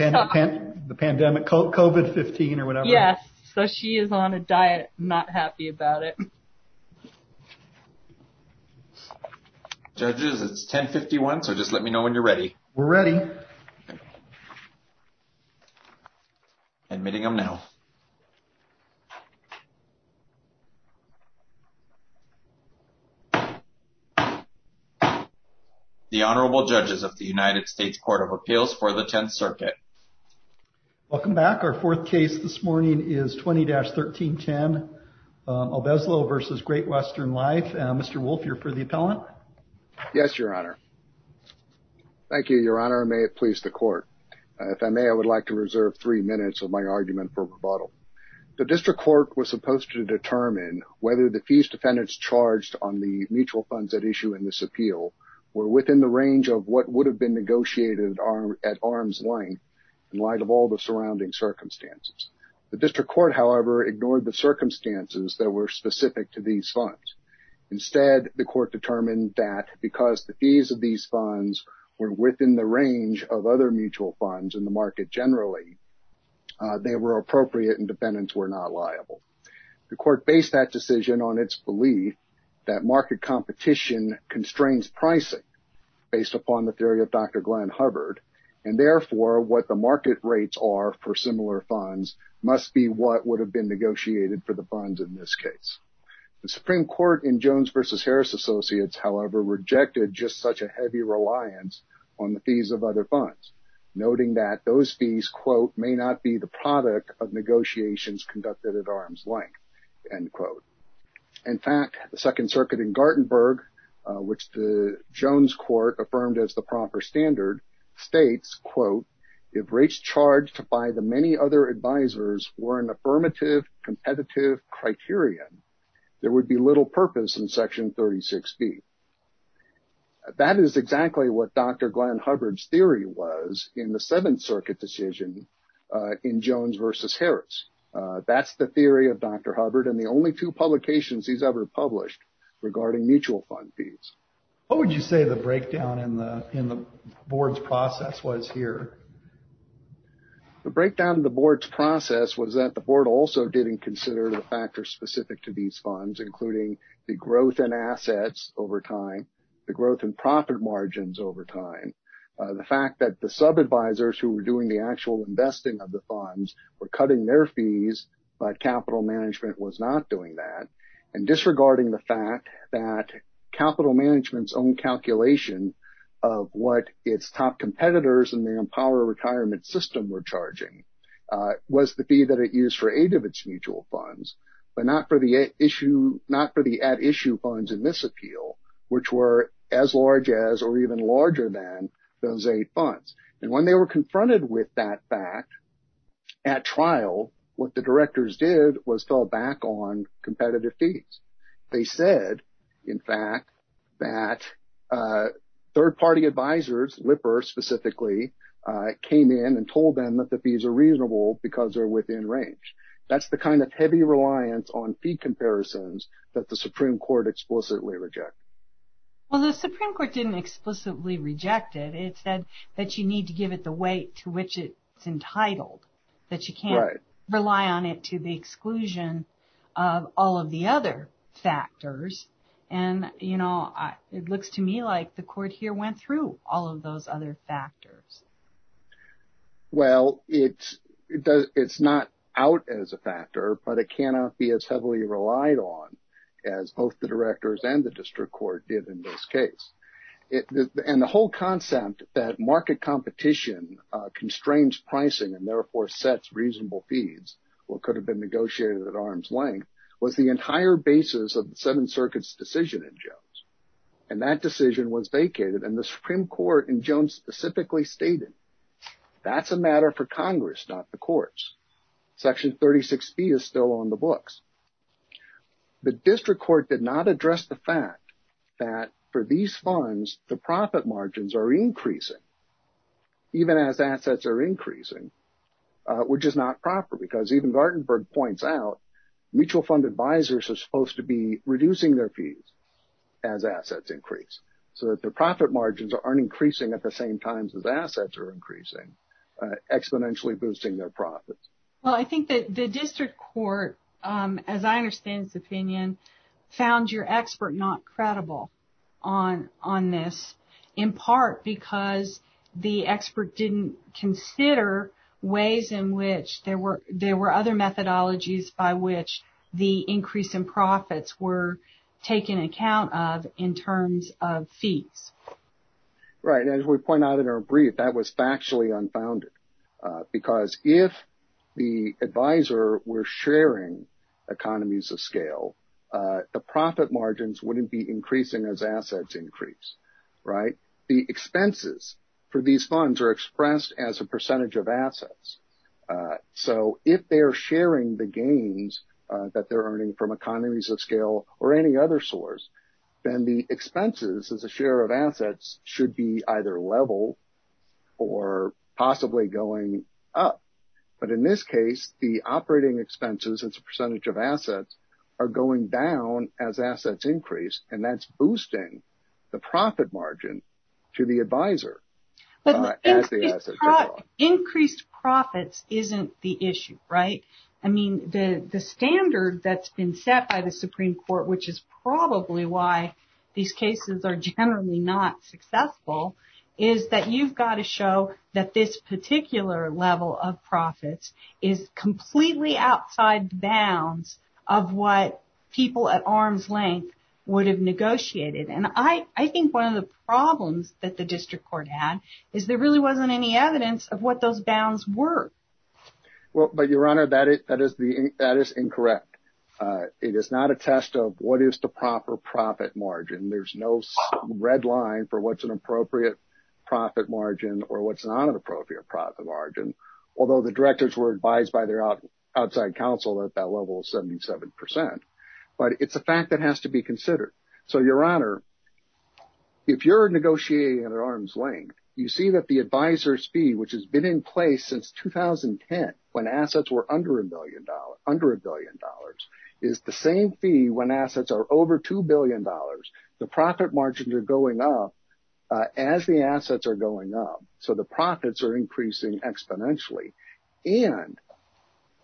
Yes, so she is on a diet, not happy about it. Judges, it's 1051, so just let me know when you're ready. We're ready. Admitting them now. The Honorable Judges of the United States Court of Appeals for the Tenth Circuit. Welcome back. Our fourth case this morning is 20-1310, Albezlo v. Great Western Life. Mr. Wolfe, you're for the appellant. Yes, Your Honor. Thank you, Your Honor. May it please the court. If I may, I would like to reserve three minutes of my argument for rebuttal. The district court was supposed to determine whether the fees defendants charged on the mutual funds at issue in this appeal were within the range of what would have been negotiated at arm's length in light of all the surrounding circumstances. The district court, however, ignored the circumstances that were specific to these funds. Instead, the court determined that because the fees of these funds were within the range of other mutual funds in the market generally, they were appropriate and defendants were not liable. The court based that decision on its belief that market competition constrains pricing based upon the theory of Dr. Glenn Hubbard, and therefore, what the market rates are for similar funds must be what would have been negotiated for the funds in this case. The Supreme Court in Jones v. Harris Associates, however, rejected just such a heavy reliance on the fees of other funds, noting that those fees, quote, may not be the product of negotiations conducted at arm's length, end quote. In fact, the Second Circuit in Gartenburg, which the Jones court affirmed as the proper standard states, quote, if rates charged by the many other advisors were an affirmative competitive criterion, there would be little purpose in Section 36B. That is exactly what Dr. Glenn Hubbard's theory was in the Seventh Circuit decision in Jones v. Harris. That's the theory of Dr. Hubbard and the only two publications he's ever published regarding mutual fund fees. What would you say the breakdown in the board's process was here? The breakdown of the board's process was that the board also didn't consider the factors specific to these funds, including the growth in assets over time, the growth in profit margins over time, the fact that the sub-advisors who were doing the actual investing of the funds were cutting their fees, but capital management was not doing that, and disregarding the fact that capital management's own calculation of what its top competitors in the Empower Retirement System were charging was the fee that it used for eight of its mutual funds, but not for the at-issue funds in this appeal, which were as large as or even larger than those eight funds. And when they were confronted with that fact at trial, what the directors did was fell back on competitive fees. They said, in fact, that third-party advisors, Lipper specifically, came in and told them that the fees are reasonable because they're within range. That's the kind of heavy reliance on fee comparisons that the Supreme Court explicitly rejected. Well, the Supreme Court didn't explicitly reject it. It said that you need to give it the weight to which it's entitled, that you can't rely on it to the exclusion of all of the other factors, and, you know, it looks to me like the court here went through all of those other factors. Well, it's not out as a factor, but it cannot be as heavily relied on as both the directors and the district court did in this case. And the whole concept that market competition constrains pricing and therefore sets reasonable fees, or could have been negotiated at arm's length, was the entire basis of the Seventh Circuit's decision in Jones. And that decision was vacated, and the Supreme Court in Jones specifically stated, that's a matter for Congress, not the courts. Section 36B is still on the books. The district court did not address the fact that for these funds, the profit margins are increasing even as assets are increasing, which is not proper because even Gartenberg points out, mutual fund advisors are supposed to be reducing their fees as assets increase, so that the profit margins aren't increasing at the same times as assets are increasing, exponentially boosting their profits. Well, I think that the district court, as I understand its opinion, found your expert not credible on this, in part because the expert didn't consider ways in which there were other methodologies by which the increase in profits were taken account of in terms of fees. Right. And as we point out in our brief, that was factually unfounded. Because if the advisor were sharing economies of scale, the profit margins wouldn't be increasing as assets increase, right? The expenses for these funds are expressed as a percentage of assets. So, if they're sharing the gains that they're earning from economies of scale or any other source, then the expenses as a share of assets should be either level or possibly going up. But in this case, the operating expenses as a percentage of assets are going down as assets increase, and that's boosting the profit margin to the advisor as the assets go up. So, increased profits isn't the issue, right? I mean, the standard that's been set by the Supreme Court, which is probably why these cases are generally not successful, is that you've got to show that this particular level of profits is completely outside bounds of what people at arm's length would have negotiated. And I think one of the problems that the district court had is there really wasn't any evidence of what those bounds were. Well, but Your Honor, that is incorrect. It is not a test of what is the proper profit margin. There's no red line for what's an appropriate profit margin or what's not an appropriate profit margin, although the directors were advised by their outside counsel that that level is 77%. But it's a fact that has to be considered. So Your Honor, if you're negotiating at arm's length, you see that the advisor's fee, which has been in place since 2010, when assets were under a billion dollars, is the same fee when assets are over $2 billion. The profit margins are going up as the assets are going up, so the profits are increasing exponentially, and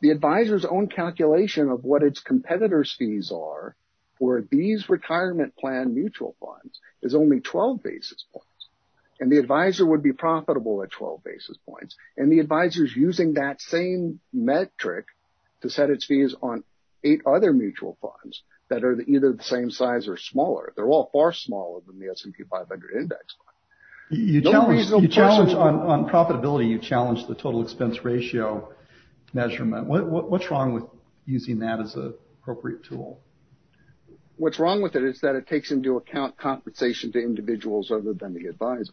the advisor's own calculation of what its competitors' fees are for these retirement plan mutual funds is only 12 basis points, and the advisor would be profitable at 12 basis points. And the advisor's using that same metric to set its fees on eight other mutual funds that are either the same size or smaller. They're all far smaller than the S&P 500 index fund. You challenge on profitability, you challenge the total expense ratio measurement. What's wrong with using that as an appropriate tool? What's wrong with it is that it takes into account compensation to individuals other than the advisor.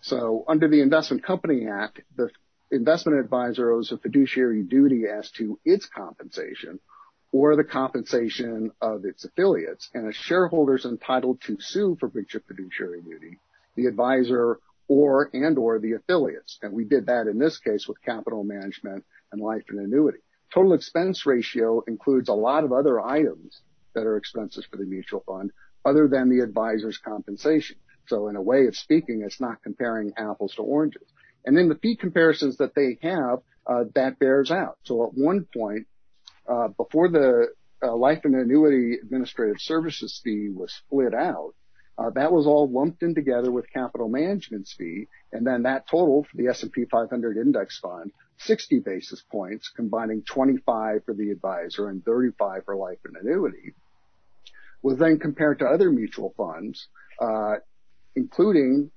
So under the Investment Company Act, the investment advisor owes a fiduciary duty as to its compensation or the compensation of its affiliates, and a shareholder's entitled to sue for breach of fiduciary duty, the advisor and or the affiliates, and we did that in this case with capital management and life and annuity. Total expense ratio includes a lot of other items that are expenses for the mutual fund other than the advisor's compensation. So in a way of speaking, it's not comparing apples to oranges. And then the fee comparisons that they have, that bears out. So at one point, before the life and annuity administrative services fee was split out, that was all lumped in together with capital management's fee, and then that total for the S&P 500 index fund, 60 basis points, combining 25 for the advisor and 35 for life and annuity, was then compared to other mutual funds, including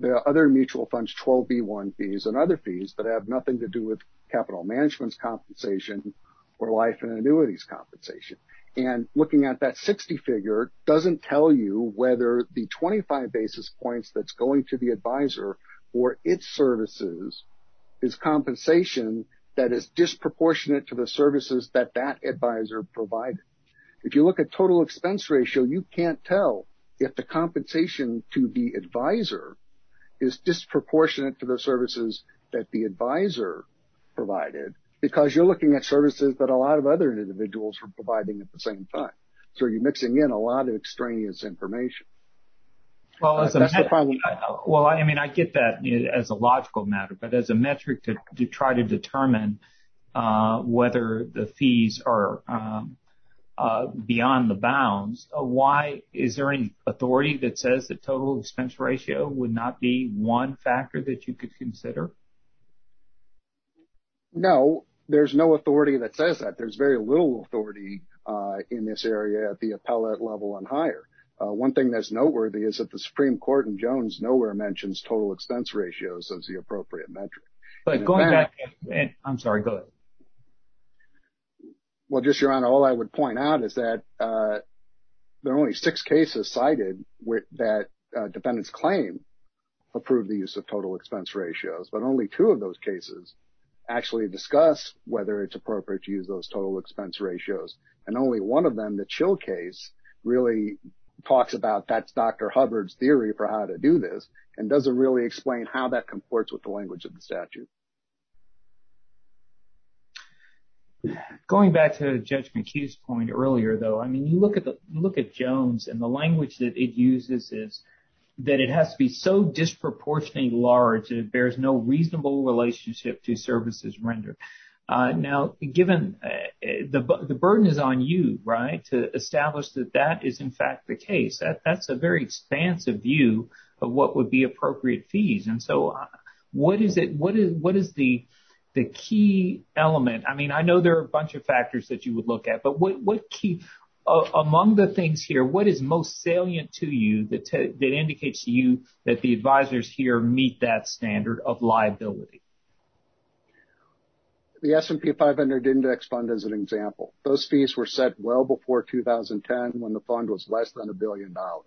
the other mutual funds, 12B1 fees and other fees that have nothing to do with capital management's compensation or life and annuity's compensation. And looking at that 60 figure doesn't tell you whether the 25 basis points that's going to the advisor or its services is compensation that is disproportionate to the services that that advisor provided. If you look at total expense ratio, you can't tell if the compensation to the advisor is disproportionate to the services that the advisor provided, because you're looking at services that a lot of other individuals are providing at the same time. So you're mixing in a lot of extraneous information. Well, as a matter of fact, well, I mean, I get that as a logical matter, but as a metric to try to determine whether the fees are beyond the bounds, why is there any authority that says that total expense ratio would not be one factor that you could consider? No, there's no authority that says that. There's very little authority in this area at the appellate level and higher. One thing that's noteworthy is that the Supreme Court in Jones nowhere mentions total expense ratios as the appropriate metric. But going back, I'm sorry, go ahead. Well, just your honor, all I would point out is that there are only six cases cited that defendants claim approved the use of total expense ratios, but only two of those cases actually discuss whether it's appropriate to use those total expense ratios. And only one of them, the Chill case, really talks about that's Dr. Hubbard's theory for how to do this and doesn't really explain how that comports with the language of the statute. Going back to Judge McHugh's point earlier, though, I mean, you look at the look at Jones and the language that it uses is that it has to be so disproportionately large that it bears no reasonable relationship to services rendered. Now, given the burden is on you, right, to establish that that is, in fact, the case, that's a very expansive view of what would be appropriate fees. And so what is it? What is what is the the key element? I mean, I know there are a bunch of factors that you would look at, but what key among the things here, what is most salient to you that that indicates to you that the advisors here meet that standard of liability? The S&P 500 index fund as an example, those fees were set well before 2010 when the fund was less than a billion dollars.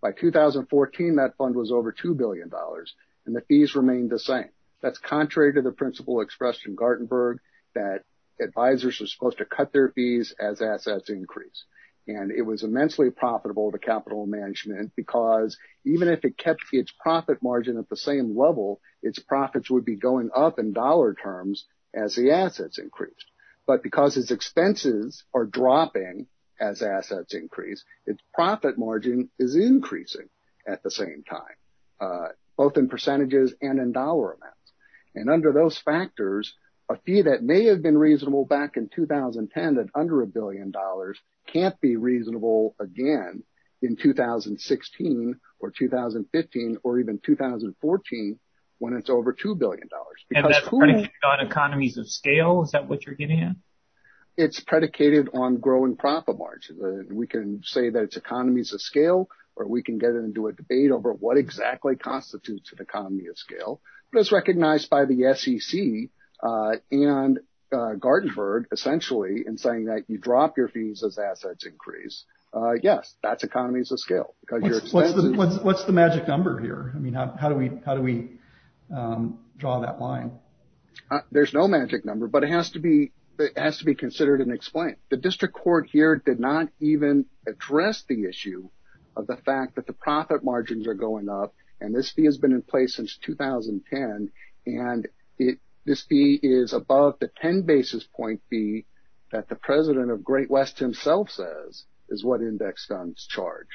By 2014, that fund was over two billion dollars and the fees remained the same. That's contrary to the principle expressed in Gartenberg that advisors are supposed to cut their fees as assets increase. And it was immensely profitable to capital management because even if it kept its profit margin at the same level, its profits would be going up in dollar terms as the assets increased. But because its expenses are dropping as assets increase, its profit margin is increasing at the same time, both in percentages and in dollar amounts. And under those factors, a fee that may have been reasonable back in 2010 at under a billion dollars can't be reasonable again in 2016 or 2015 or even 2014 when it's over two billion dollars. And that's predicated on economies of scale. Is that what you're getting at? It's predicated on growing profit margins. We can say that it's economies of scale or we can get into a debate over what exactly constitutes an economy of scale. But it's recognized by the SEC and Gartenberg essentially in saying that you drop your fees as assets increase. Yes, that's economies of scale. What's the magic number here? I mean, how do we how do we draw that line? There's no magic number, but it has to be it has to be considered and explained. The district court here did not even address the issue of the fact that the profit margins are going up. And this fee has been in place since 2010. And this fee is above the 10 basis point fee that the president of Great West himself says is what index funds charge.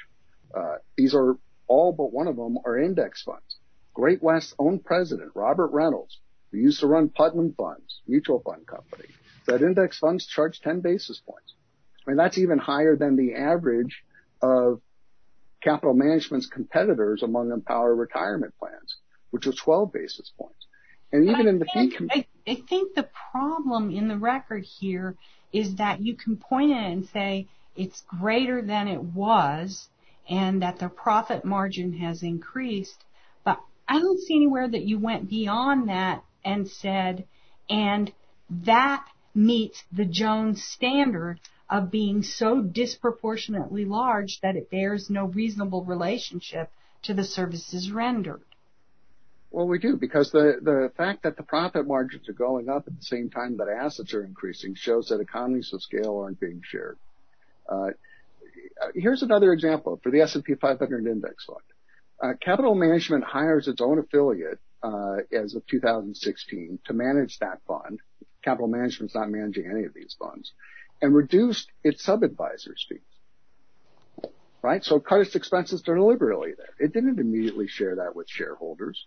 These are all but one of them are index funds. Great West's own president, Robert Reynolds, used to run Putnam Funds, mutual fund company, that index funds charge 10 basis points. I mean, that's even higher than the average of capital management's competitors among Empower retirement plans, which are 12 basis points. And even in the I think the problem in the record here is that you can point it and say it's greater than it was and that the profit margin has increased. But I don't see anywhere that you went beyond that and said and that meets the Jones standard of being so disproportionately large that it bears no reasonable relationship to the services rendered. Well, we do, because the fact that the profit margins are going up at the same time that assets are increasing shows that economies of scale aren't being shared. Here's another example for the S&P 500 index fund. Capital management hires its own affiliate as of 2016 to manage that fund. Capital management's not managing any of these funds and reduced its sub-advisors fees. Right. So it cut its expenses deliberately there. It didn't immediately share that with shareholders.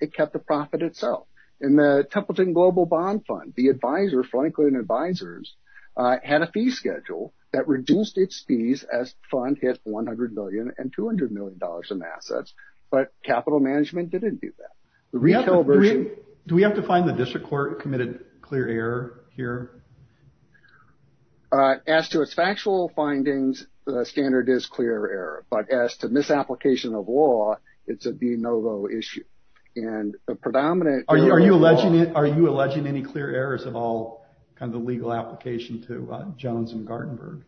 It kept the profit itself. In the Templeton Global Bond Fund, the advisor, Franklin Advisors, had a fee schedule that reduced its fees as the fund hit $100 million and $200 million in assets. But capital management didn't do that. The retail version. Do we have to find the district court committed clear error here? As to its factual findings, the standard is clear error. But as to misapplication of law, it's a de novo issue. Are you alleging any clear errors of all the legal application to Jones and Gartenberg?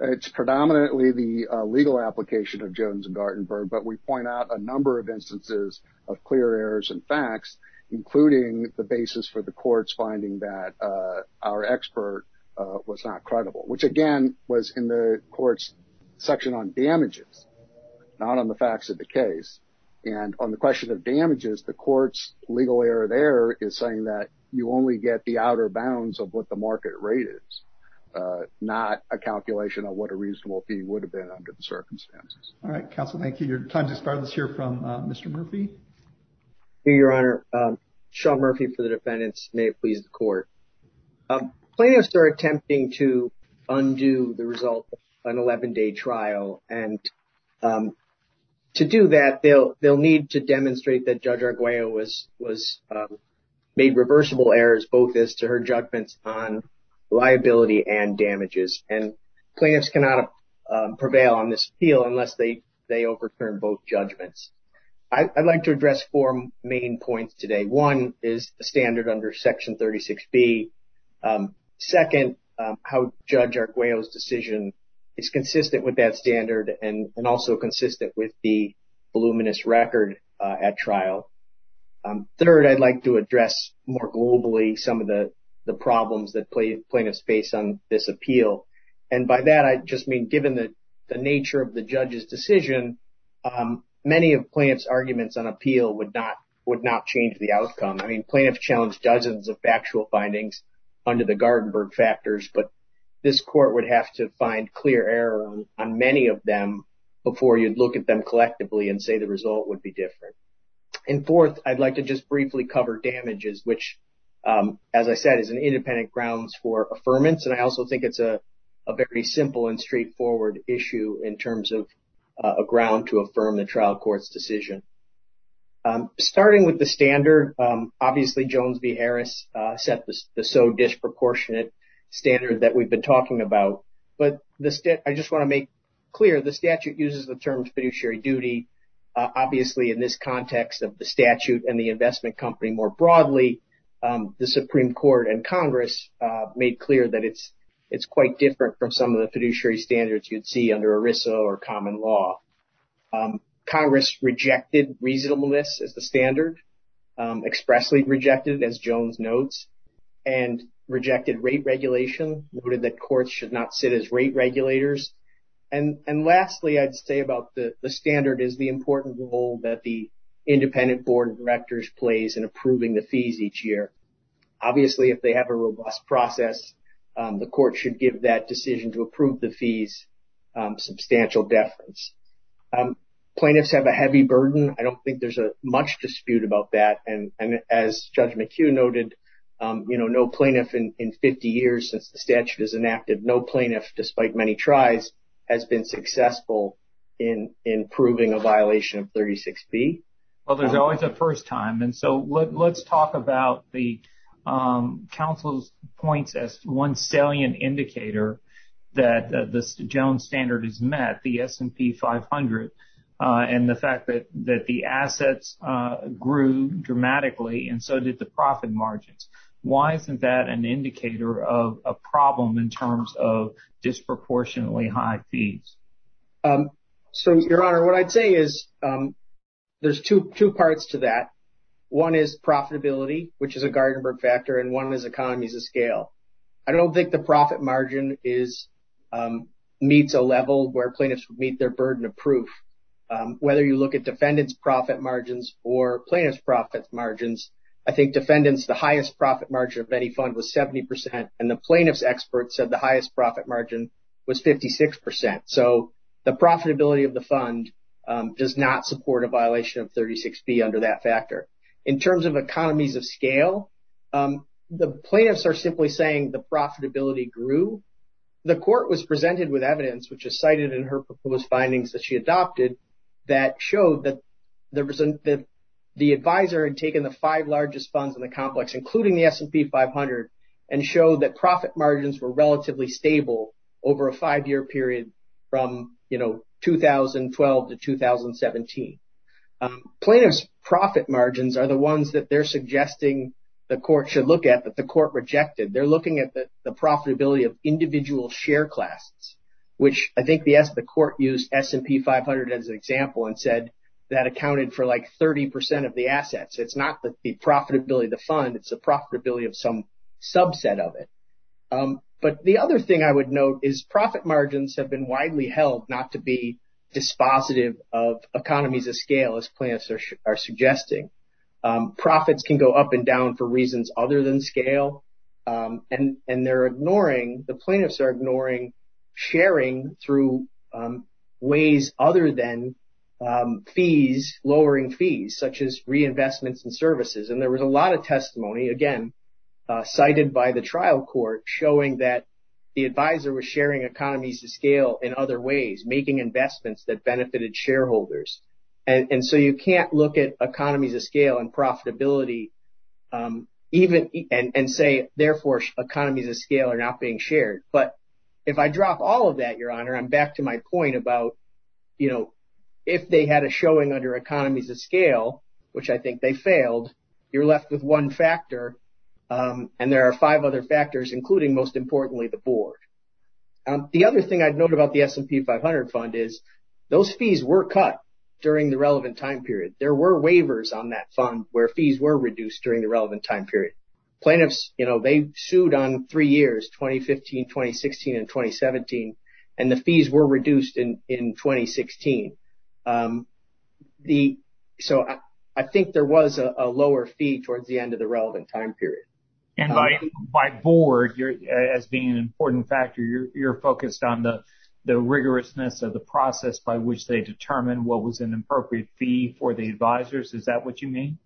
It's predominantly the legal application of Jones and Gartenberg. But we point out a number of instances of clear errors and facts, including the basis for the courts finding that our expert was not credible, which again was in the court's section on damages, not on the facts of the case. And on the question of damages, the court's legal error there is saying that you only get the outer bounds of what the market rate is, not a calculation of what a reasonable fee would have been under the circumstances. All right, counsel. Thank you. Your time to start us here from Mr. Murphy. Your Honor, Sean Murphy for the defendants. May it please the court. Plaintiffs are attempting to undo the result of an 11 day trial. And to do that, they'll need to demonstrate that Judge Arguello was made reversible errors, both as to her judgments on liability and damages. And plaintiffs cannot prevail on this appeal unless they overturn both judgments. I'd like to address four main points today. One is the standard under Section 36B. Second, how Judge Arguello's decision is consistent with that standard and also consistent with the voluminous record at trial. Third, I'd like to address more globally some of the problems that plaintiffs face on this appeal. And by that, I just mean, given the nature of the judge's decision, many of them. I mean, plaintiffs challenged dozens of factual findings under the Gartenberg factors, but this court would have to find clear error on many of them before you'd look at them collectively and say the result would be different. And fourth, I'd like to just briefly cover damages, which, as I said, is an independent grounds for affirmance. And I also think it's a very simple and straightforward issue in terms of a ground to affirm the trial court's decision. Starting with the standard, obviously, Jones v. Harris set the so disproportionate standard that we've been talking about. But I just want to make clear the statute uses the term fiduciary duty. Obviously, in this context of the statute and the investment company more broadly, the Supreme Court and Congress made clear that it's quite different from some of the fiduciary standards you'd see under ERISA or common law. Congress rejected reasonableness as the standard, expressly rejected, as Jones notes, and rejected rate regulation, noted that courts should not sit as rate regulators. And lastly, I'd say about the standard is the important role that the independent board of directors plays in approving the fees each year. Obviously, if they have a robust process, the court should give that decision to approve the fees substantial deference. Plaintiffs have a heavy burden. I don't think there's much dispute about that. And as Judge McHugh noted, you know, no plaintiff in 50 years since the statute is inactive, no plaintiff, despite many tries, has been successful in improving a violation of 36B. Well, there's always a first time. And so let's talk about the counsel's points as one salient indicator that the Jones standard is met. The S&P 500 and the fact that the assets grew dramatically and so did the profit margins. Why isn't that an indicator of a problem in terms of disproportionately high fees? So, Your Honor, what I'd say is there's two parts to that. One is profitability, which is a Gartenberg factor, and one is economies of scale. I don't think the profit margin is, meets a level where plaintiffs would meet their burden of proof, whether you look at defendant's profit margins or plaintiff's profit margins. I think defendants, the highest profit margin of any fund was 70 percent, and the plaintiff's experts said the highest profit margin was 56 percent. So the profitability of the fund does not support a violation of 36B under that factor. In terms of economies of scale, the plaintiffs are simply saying the profitability grew. The court was presented with evidence, which is cited in her proposed findings that she adopted, that showed that the advisor had taken the five largest funds in the complex, including the S&P 500, and showed that profit margins were relatively stable over a five-year period from, you know, 2012 to 2017. Plaintiffs' profit margins are the ones that they're suggesting the court should look at that the court rejected. They're looking at the profitability of individual share classes, which I think the court used S&P 500 as an example and said that accounted for like 30 percent of the assets. It's not the profitability of the fund, it's the profitability of some subset of it. But the other thing I would note is profit margins have been widely held not to be dispositive of economies of scale, as plaintiffs are suggesting. Profits can go up and down for reasons other than scale, and they're ignoring, the plaintiffs are ignoring sharing through ways other than fees, lowering fees, such as reinvestments in services. And there was a lot of testimony, again, cited by the trial court showing that the advisor was sharing economies of scale in other ways, making investments that economies of scale and profitability, and say, therefore, economies of scale are not being shared. But if I drop all of that, Your Honor, I'm back to my point about, you know, if they had a showing under economies of scale, which I think they failed, you're left with one factor and there are five other factors, including most importantly, the board. The other thing I'd note about the S&P 500 fund is those fees were cut during the relevant time period. There were waivers on that fund where fees were reduced during the relevant time period. Plaintiffs, you know, they sued on three years, 2015, 2016 and 2017, and the fees were reduced in 2016. So I think there was a lower fee towards the end of the relevant time period. And by board, as being an important factor, you're focused on the rigorousness of the fee for the advisors. Is that what you mean?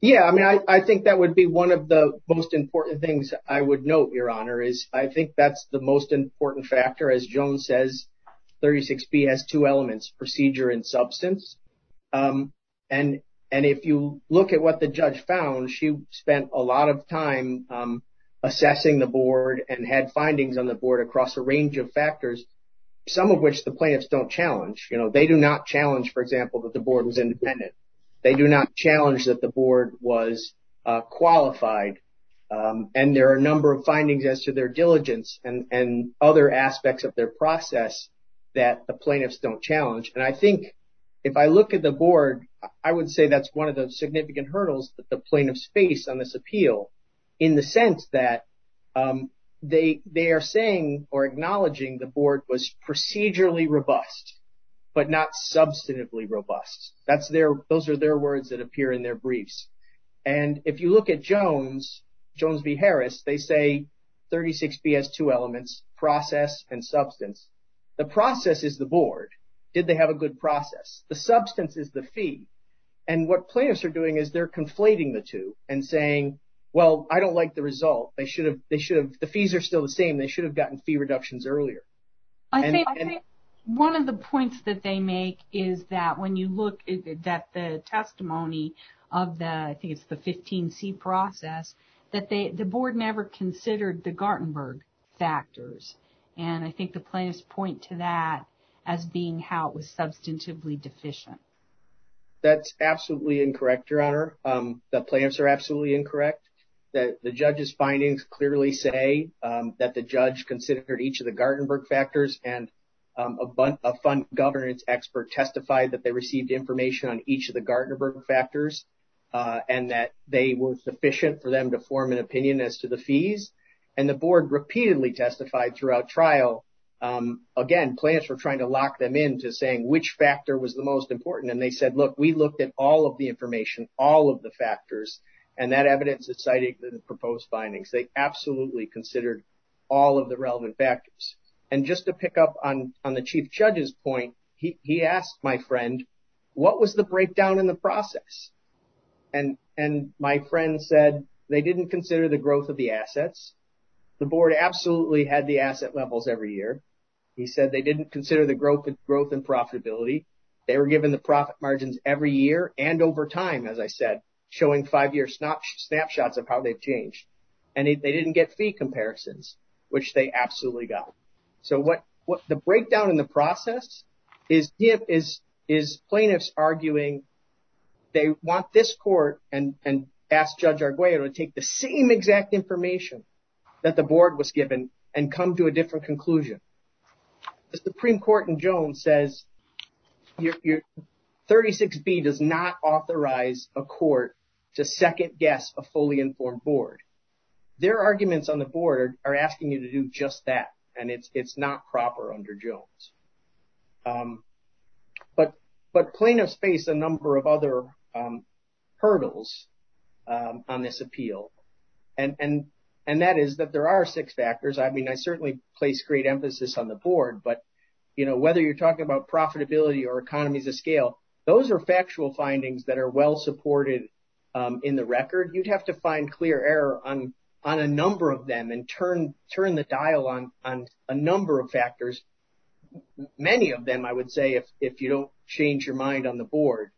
Yeah, I mean, I think that would be one of the most important things I would note, Your Honor, is I think that's the most important factor. As Joan says, 36B has two elements, procedure and substance. And if you look at what the judge found, she spent a lot of time assessing the board and had findings on the board across a range of factors, some of which the plaintiffs don't challenge. You know, they do not challenge, for example, that the board was independent. They do not challenge that the board was qualified. And there are a number of findings as to their diligence and other aspects of their process that the plaintiffs don't challenge. And I think if I look at the board, I would say that's one of the significant hurdles that the plaintiffs face on this appeal in the sense that they are saying or acknowledging the board was procedurally robust, but not substantively robust. That's their those are their words that appear in their briefs. And if you look at Jones, Jones v. Harris, they say 36B has two elements, process and substance. The process is the board. Did they have a good process? The substance is the fee. And what plaintiffs are doing is they're conflating the two and saying, well, I don't like the result. They should have. They should have. The fees are still the same. They should have gotten fee reductions earlier. I think one of the points that they make is that when you look at the testimony of the I think it's the 15C process that the board never considered the Gartenberg factors. And I think the plaintiffs point to that as being how it was substantively deficient. That's absolutely incorrect, Your Honor. The plaintiffs are absolutely incorrect. The judge's findings clearly say that the judge considered each of the Gartenberg factors and a fund governance expert testified that they received information on each of the Gartenberg factors and that they were sufficient for them to form an opinion as to the fees. And the board repeatedly testified throughout trial. Again, plaintiffs were trying to lock them in to saying which factor was the most important. And they said, look, we looked at all of the information, all of the factors, and that evidence is citing the proposed findings. They absolutely considered all of the relevant factors. And just to pick up on the chief judge's point, he asked my friend, what was the breakdown in the process? And my friend said they didn't consider the growth of the assets. The board absolutely had the asset levels every year. He said they didn't consider the growth and profitability. They were given the profit margins every year and over time, as I said, showing five year snapshots of how they've changed. And they didn't get fee comparisons, which they absolutely got. So what the breakdown in the process is plaintiffs arguing they want this court and ask Judge Arguello to take the same exact information that the board was given and come to a different conclusion. The Supreme Court in Jones says 36B does not authorize a court to second guess a fully informed board. Their arguments on the board are asking you to do just that. And it's not proper under Jones. But plaintiffs face a number of other hurdles on this appeal. And that is that there are six factors. I mean, I certainly place great emphasis on the board, but, you know, whether you're talking about profitability or economies of scale, those are factual findings that are well supported in the record. You'd have to find clear error on a number of them and turn the dial on a number of factors. Many of them, I would say, if you don't change your mind on the board.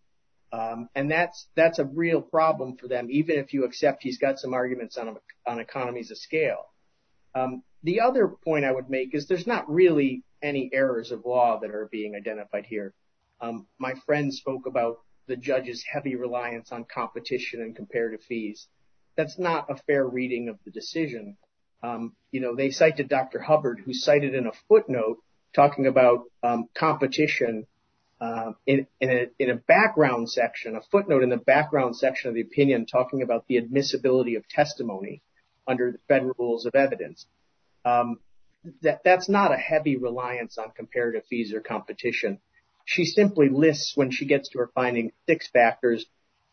And that's a real problem for them, even if you accept he's got some arguments on economies of scale. The other point I would make is there's not really any errors of law that are being identified here. My friend spoke about the judge's heavy reliance on competition and comparative fees. That's not a fair reading of the decision. You know, they cited Dr. Hubbard, who cited in a footnote talking about competition in a background section, a footnote in the background section of the opinion talking about the admissibility of that. That's not a heavy reliance on comparative fees or competition. She simply lists when she gets to her finding six factors,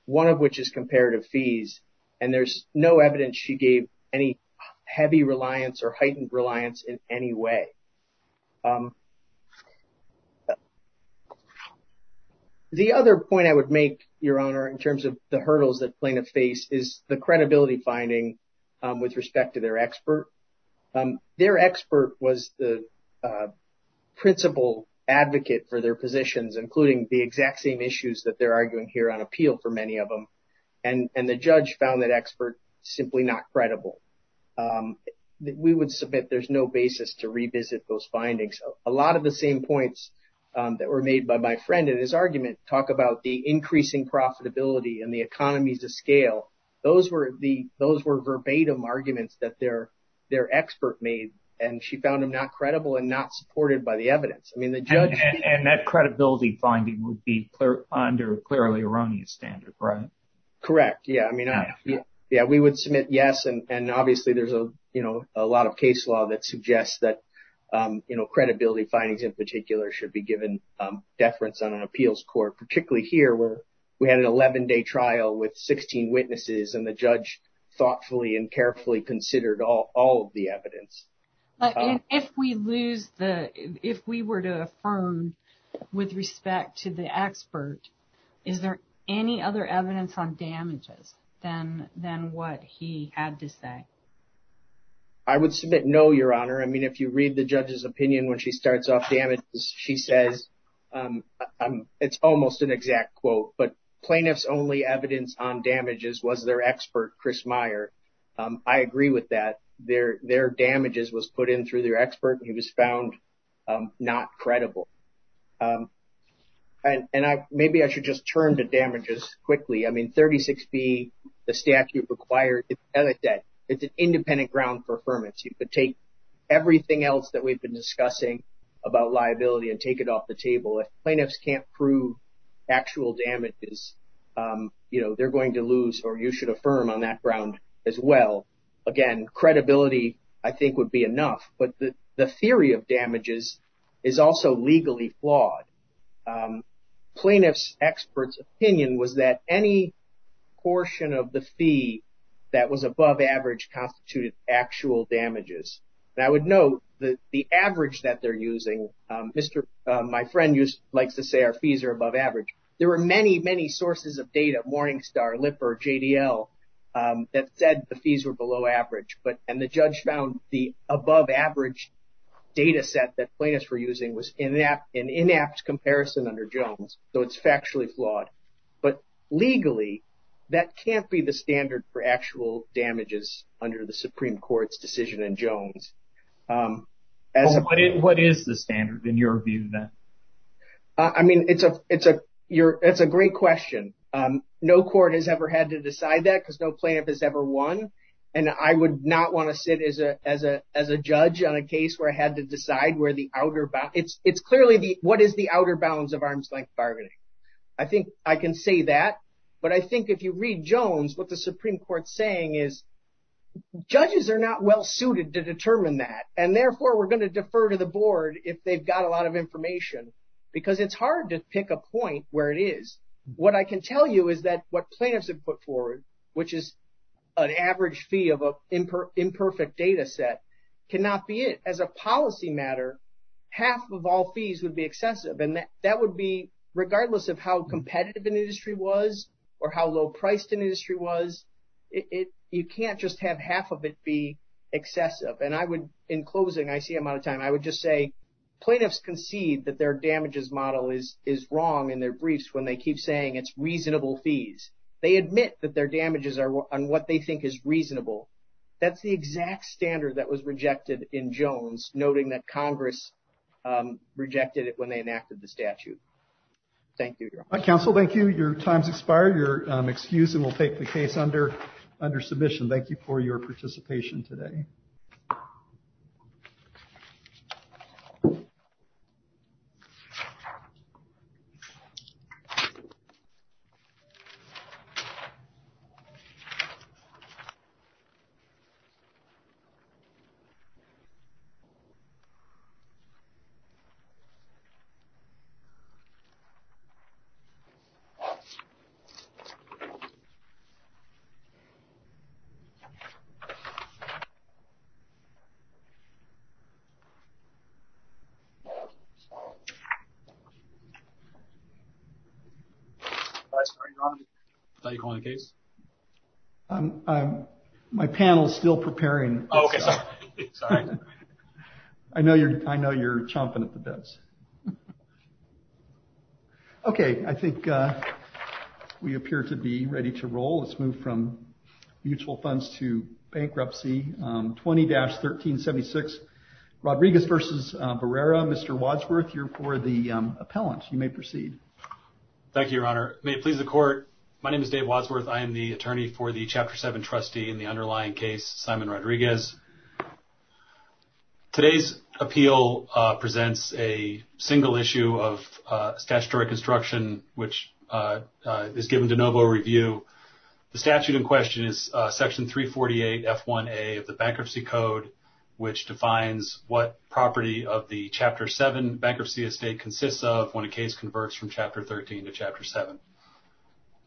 one of which is comparative fees. And there's no evidence she gave any heavy reliance or heightened reliance in any way. The other point I would make, Your Honor, in terms of the hurdles that plaintiffs face is the credibility finding with respect to their expert. Their expert was the principal advocate for their positions, including the exact same issues that they're arguing here on appeal for many of them. And the judge found that expert simply not credible. We would submit there's no basis to revisit those findings. A lot of the same points that were made by my friend in his argument talk about the increasing profitability and the economies of scale. Those were verbatim arguments that their expert made. And she found him not credible and not supported by the evidence. I mean, the judge. And that credibility finding would be under clearly erroneous standard, right? Correct. Yeah. I mean, yeah, we would submit yes. And obviously, there's a lot of case law that suggests that credibility findings in particular should be given deference on an appeals court, particularly here where we had an 11 day trial with 16 witnesses and the judge thoughtfully and carefully considered all of the evidence. If we lose the if we were to affirm with respect to the expert, is there any other evidence on damages than what he had to say? I would submit no, Your Honor. I mean, if you read the judge's opinion when she starts off, she says it's almost an argument that the plaintiff's only evidence on damages was their expert, Chris Meyer. I agree with that. Their damages was put in through their expert. He was found not credible. And maybe I should just turn to damages quickly. I mean, 36B, the statute required that it's an independent ground for affirmance. You could take everything else that we've been discussing about liability and take it as an independent ground for affirmation. But if you're going to say, you know, they're going to lose or you should affirm on that ground as well. Again, credibility, I think, would be enough. But the theory of damages is also legally flawed. Plaintiff's expert's opinion was that any portion of the fee that was above average constituted actual damages. I would note that the average that they're using, my friend likes to say our fees are above average. There were many, many sources of data, Morningstar, Lipper, JDL, that said the fees were below average. And the judge found the above average data set that plaintiffs were using was an inapt comparison under Jones. So it's factually flawed. But legally, that can't be the standard for actual damages under the Supreme Court's decision in Jones. What is the standard, in your view, then? I mean, it's a great question. No court has ever had to decide that because no plaintiff has ever won. And I would not want to sit as a judge on a case where I had to decide where the outer bounds, it's clearly the what is the outer bounds of arm's length bargaining. I think I can say that. But I think if you read Jones, what the Supreme Court's saying is judges are not well suited to determine that. And therefore, we're going to defer to the board if they've got a lot of information, because it's hard to pick a point where it is. What I can tell you is that what plaintiffs have put forward, which is an average fee of an imperfect data set, cannot be it. As a policy matter, half of all fees would be excessive. And that would be regardless of how competitive an industry was or how low priced an industry was, excessive. And I would, in closing, I see I'm out of time. I would just say plaintiffs concede that their damages model is is wrong in their briefs when they keep saying it's reasonable fees. They admit that their damages are on what they think is reasonable. That's the exact standard that was rejected in Jones, noting that Congress rejected it when they enacted the statute. Thank you, Your Honor. Counsel, thank you. Your time's expired. You're excused and will take the case under submission. Thank you for your participation today. Thank you. Do I start, Your Honor, without you calling the case? My panel's still preparing. I'm sorry. I know you're chomping at the bits. OK, I think we appear to be ready to roll. Let's move from mutual funds to bankruptcy. 20-1376, Rodriguez versus Barrera. Mr. Wadsworth, you're for the appellant. You may proceed. Thank you, Your Honor. May it please the court, my name is Dave Wadsworth. I am the attorney for the Chapter 7 trustee in the underlying case, Simon Rodriguez. Today's appeal presents a single issue of statutory construction, which is given de novo review. The statute in question is Section 348 F1A of the Bankruptcy Code, which defines what property of the Chapter 7 bankruptcy estate consists of when a case converts from Chapter 13 to Chapter 7.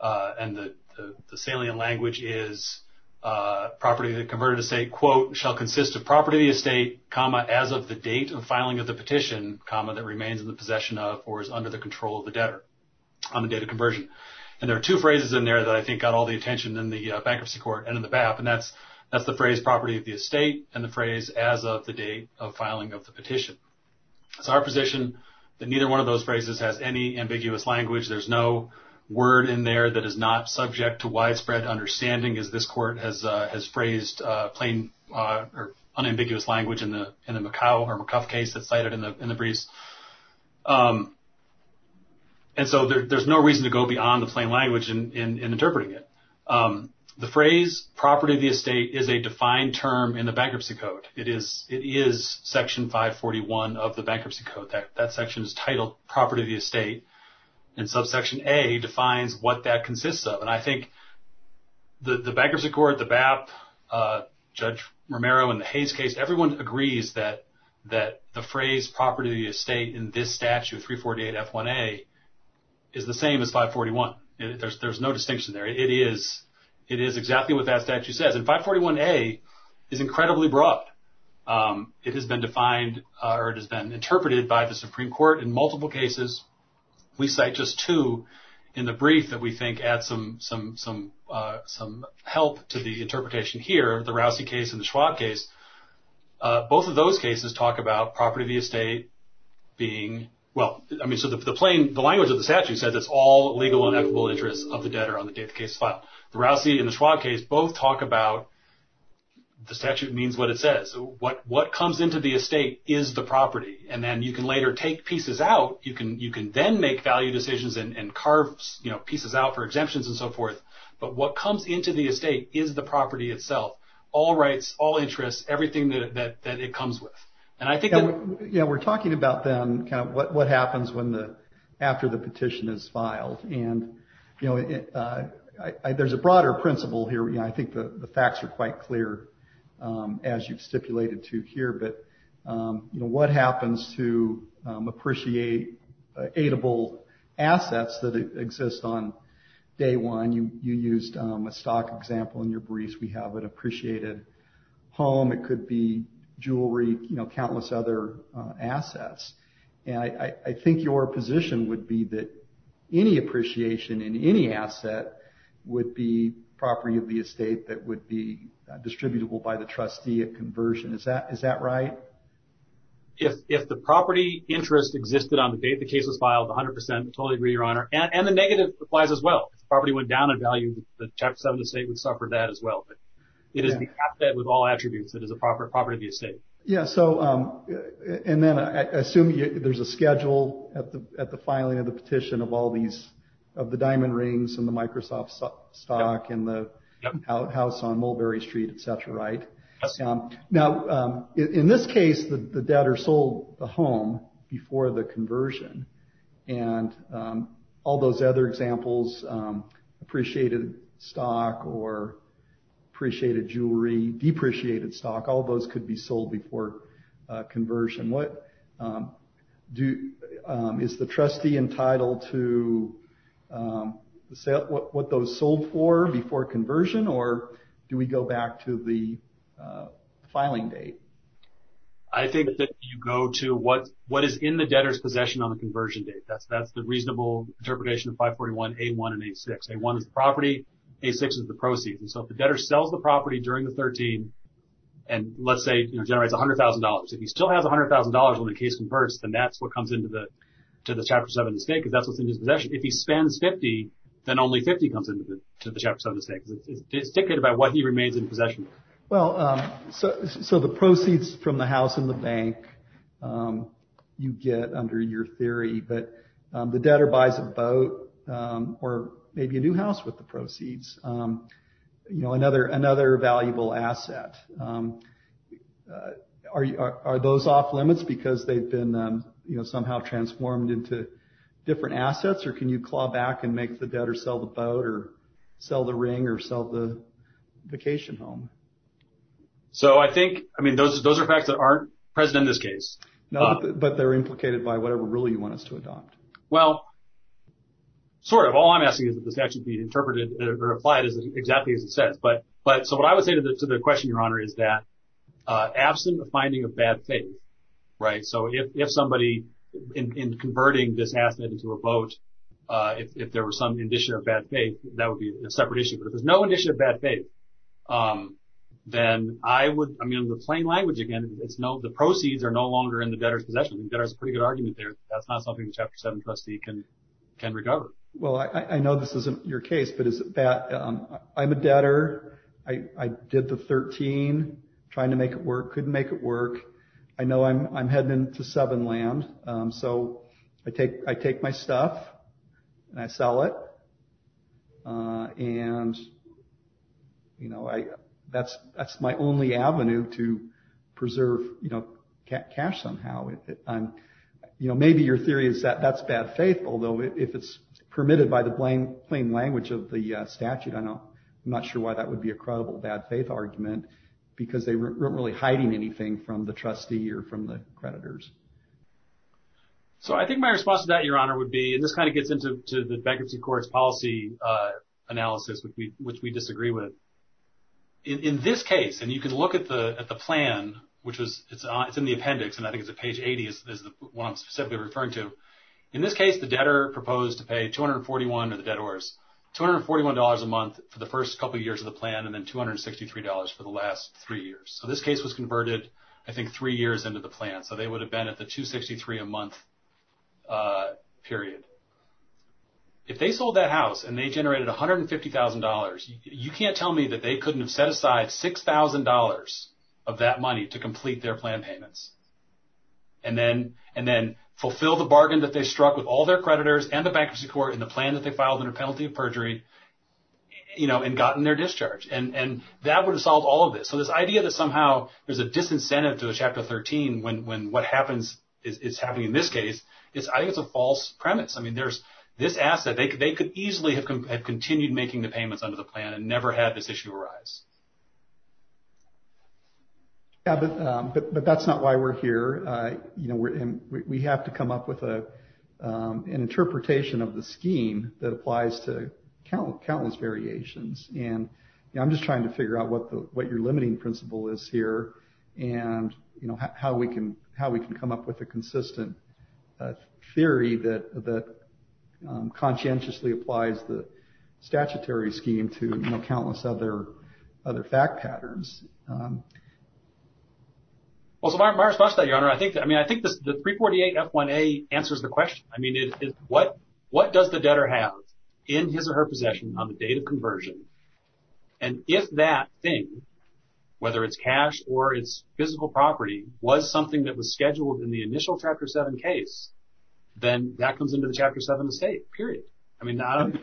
And the salient language is, property of the converted estate, quote, shall consist of property of the estate, comma, as of the date of filing of the petition, comma, that remains in the possession of or is under the control of the debtor on the date of conversion. And there are two phrases in there that I think got all the attention in the bankruptcy court and in the BAP, and that's the phrase, property of the estate, and the phrase, as of the date of filing of the petition. It's our position that neither one of those phrases has any ambiguous language. There's no word in there that is not subject to widespread understanding as this court has phrased plain or unambiguous language in the McCow or McCuff case that's cited in the briefs. And so, there's no reason to go beyond the plain language in interpreting it. The phrase, property of the estate, is a defined term in the Bankruptcy Code. It is Section 541 of the Bankruptcy Code. That section is titled, property of the estate, and subsection A defines what that consists of. And I think the bankruptcy court, the BAP, Judge Romero, and the Hayes case, everyone agrees that the phrase, property of the estate, in this statute, 348 F1A, is the same as 541. There's no distinction there. It is exactly what that statute says. And 541A is incredibly broad. It has been defined, or it has been interpreted by the Supreme Court in multiple cases. We cite just two in the brief that we think add some help to the interpretation here, the Rousey case and the Schwab case. Both of those cases talk about property of the estate being, well, I mean, so the plain, the language of the statute says it's all legal and equitable interests of the debtor on the date the case is filed. The Rousey and the Schwab case both talk about the statute means what it says. What comes into the estate is the property. And then you can later take pieces out. You can then make value decisions and carve pieces out for exemptions and so forth. But what comes into the estate is the property itself. All rights, all interests, everything that it comes with. And I think that... Yeah, we're talking about then kind of what happens after the petition is filed. And there's a broader principle here. I think the facts are quite clear as you've stipulated to here. But what happens to appreciate aitable assets that exist on day one? You used a stock example in your briefs. We have an appreciated home. It could be jewelry, you know, countless other assets. And I think your position would be that any appreciation in any asset would be property of the estate that would be distributable by the trustee at conversion. Is that right? If the property interest existed on the date the case was filed, 100%, totally agree, Your Honor. And the negative applies as well. If the property went down in value, the Chapter 7 estate would suffer that as well. It is the asset with all attributes that is a property of the estate. Yeah, so and then I assume there's a schedule at the filing of the petition of all these, of the diamond rings and the Microsoft stock and the house on Mulberry Street, et cetera, right? Now, in this case, the debtor sold the home before the conversion. And all those other examples, appreciated stock or appreciated jewelry, depreciated stock, all those could be sold before conversion. What do, is the trustee entitled to what those sold for before conversion? Or do we go back to the filing date? I think that you go to what is in the debtor's possession on the conversion date. That's the reasonable interpretation of 541A1 and A6. A1 is the property, A6 is the proceeds. And so if the debtor sells the property during the 13, and let's say, you know, generates $100,000, if he still has $100,000 when the case converts, then that's what comes into the, to the Chapter 7 estate, because that's what's in his possession. If he spends 50, then only 50 comes into the Chapter 7 estate. It's dictated by what he remains in possession of. Well, so the proceeds from the house and the bank you get under your theory, but the debtor buys a boat or maybe a new house with the proceeds, you know, another valuable asset. Are those off limits because they've been, you know, somehow transformed into different assets? Or can you claw back and make the debtor sell the boat or sell the ring or sell the vacation home? So I think, I mean, those are facts that aren't present in this case. No, but they're implicated by whatever rule you want us to adopt. Well, sort of. All I'm asking is that this actually be interpreted or applied exactly as it says. But, so what I would say to the question, Your Honor, is that absent a finding of bad faith, right? So if somebody, in converting this asset into a boat, if there were some indicia of bad faith, that would be a separate issue. But if there's no indicia of bad faith, then I would, I mean, in the plain language, again, it's no, the proceeds are no longer in the debtor's possession. The debtor has a pretty good argument there. That's not something the Chapter 7 trustee can, can recover. Well, I know this isn't your case, but is that, I'm a debtor. I did the 13, trying to make it work, couldn't make it work. I know I'm, I'm heading into seven land. So I take, I take my stuff and I sell it. And, you know, I, that's, that's my only avenue to preserve, you know, cash somehow. I'm, you know, maybe your theory is that that's bad faith. Although if it's permitted by the plain language of the statute, I'm not sure why that would be a credible bad faith argument because they weren't really hiding anything from the trustee or from the creditors. So I think my response to that, Your Honor, would be, and this kind of gets into the bankruptcy court's policy analysis, which we, which we disagree with. In this case, and you can look at the, at the plan, which was, it's on, it's in the appendix. And I think it's a page 80 is, is the one I'm specifically referring to. In this case, the debtor proposed to pay 241, or the debtors, $241 a month for the first couple of years of the plan. And then $263 for the last three years. So this case was converted, I think three years into the plan. So they would have been at the 263 a month period. If they sold that house and they generated $150,000, you can't tell me that they couldn't have set aside $6,000 of that money to complete their plan payments. And then, and then fulfill the bargain that they struck with all their creditors and the bankruptcy court in the plan that they filed under penalty of perjury, you know, and gotten their discharge. And, and that would have solved all of this. So this idea that somehow there's a disincentive to the chapter 13, when, when what happens is, is happening in this case is, I think it's a false premise. I mean, there's this asset. They could, they could easily have continued making the payments under the plan and never had this issue arise. Yeah, but, but, but that's not why we're here. You know, we're in, we have to come up with a, an interpretation of the scheme that applies to countless, countless variations. And I'm just trying to figure out what the, what your limiting principle is here. And, you know, how we can, how we can come up with a consistent theory that, that conscientiously applies the statutory scheme to countless other, other fact patterns. Well, so my response to that, Your Honor, I think, I mean, I think the 348 F1A answers the question. I mean, what, what does the debtor have in his or her possession on the date of conversion? And if that thing, whether it's cash or it's physical property, was something that was scheduled in the initial Chapter 7 case, then that comes into the Chapter 7 estate, period. I mean, I don't.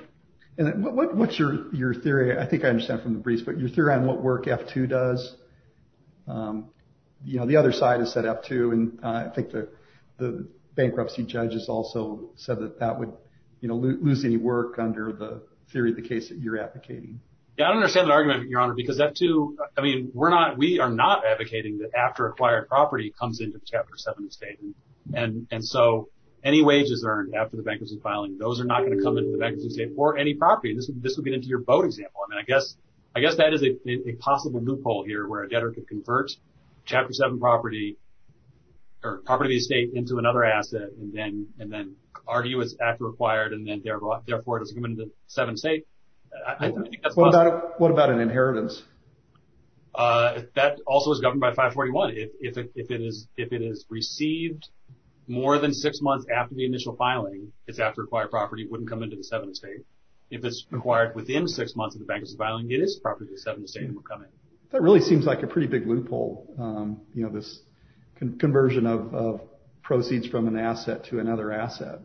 And what, what's your, your theory? I think I understand from the briefs, but your theory on what work F2 does, you know, the other side is set up too. And I think the bankruptcy judges also said that that would, you know, lose any work under the theory of the case that you're advocating. Yeah, I don't understand the argument, Your Honor, because that too, I mean, we're not, we are not advocating that after acquired property comes into the Chapter 7 estate. And, and so any wages earned after the bankruptcy filing, those are not going to come into the bankruptcy estate or any property. This would, this would get into your boat example. I mean, I guess, I guess that is a possible loophole here where a debtor could convert Chapter 7 property or property of the estate into another asset. And then, and then argue it's after acquired and then therefore it doesn't come into the 7 estate. I think that's possible. What about an inheritance? That also is governed by 541. If it is, if it is received more than six months after the initial filing, it's after acquired property, wouldn't come into the 7 estate. If it's acquired within six months of the bankruptcy filing, it is property of the 7 estate that would come in. That really seems like a pretty big loophole. You know, this conversion of proceeds from an asset to another asset.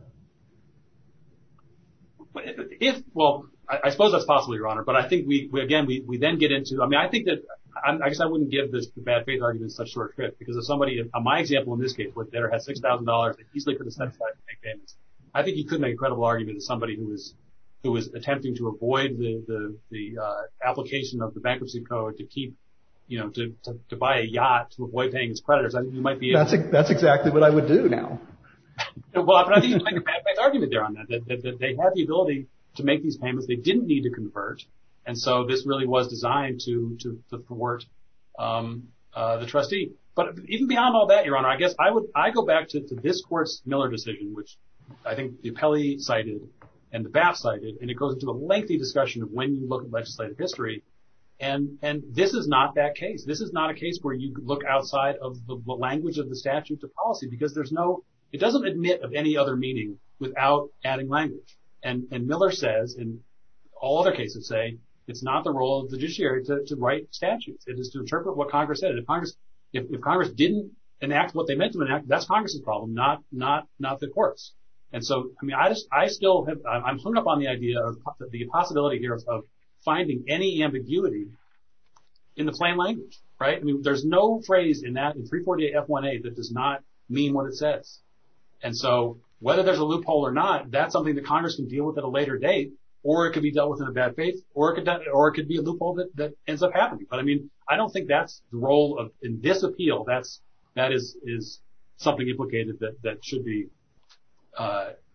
But if, well, I suppose that's possible, Your Honor. But I think we, again, we then get into, I mean, I think that, I guess I wouldn't give this bad faith argument such short shrift because if somebody, on my example in this case, where a debtor has $6,000 that he easily could have set aside to make payments, I think he could make a credible argument that somebody who is attempting to avoid the application of the bankruptcy code to keep, you know, to buy a yacht to avoid paying his creditors. I think you might be able to. That's exactly what I would do now. Well, but I think you're making a bad faith argument there on that, that they had the ability to make these payments. They didn't need to convert. And so this really was designed to thwart the trustee. But even beyond all that, Your Honor, I guess I would, I go back to this court's Miller decision, which I think the appellee cited and the BAF cited, and it goes into a lengthy discussion of when you look at legislative history. And this is not that case. This is not a case where you look outside of the language of the statute to policy because there's no, it doesn't admit of any other meaning without adding language. And Miller says, and all other cases say, it's not the role of the judiciary to write statutes. It is to interpret what Congress said. If Congress didn't enact what they meant to enact, that's Congress's problem, not the court's. And so, I mean, I still have, I'm hung up on the idea of the possibility here of finding any ambiguity in the plain language, right? I mean, there's no phrase in that in 348 F1A that does not mean what it says. And so, whether there's a loophole or not, that's something that Congress can deal with at a later date, or it could be dealt with in a bad face, or it could be a loophole that ends up happening. But I mean, I don't think that's the role of, in this appeal, that is something implicated that should be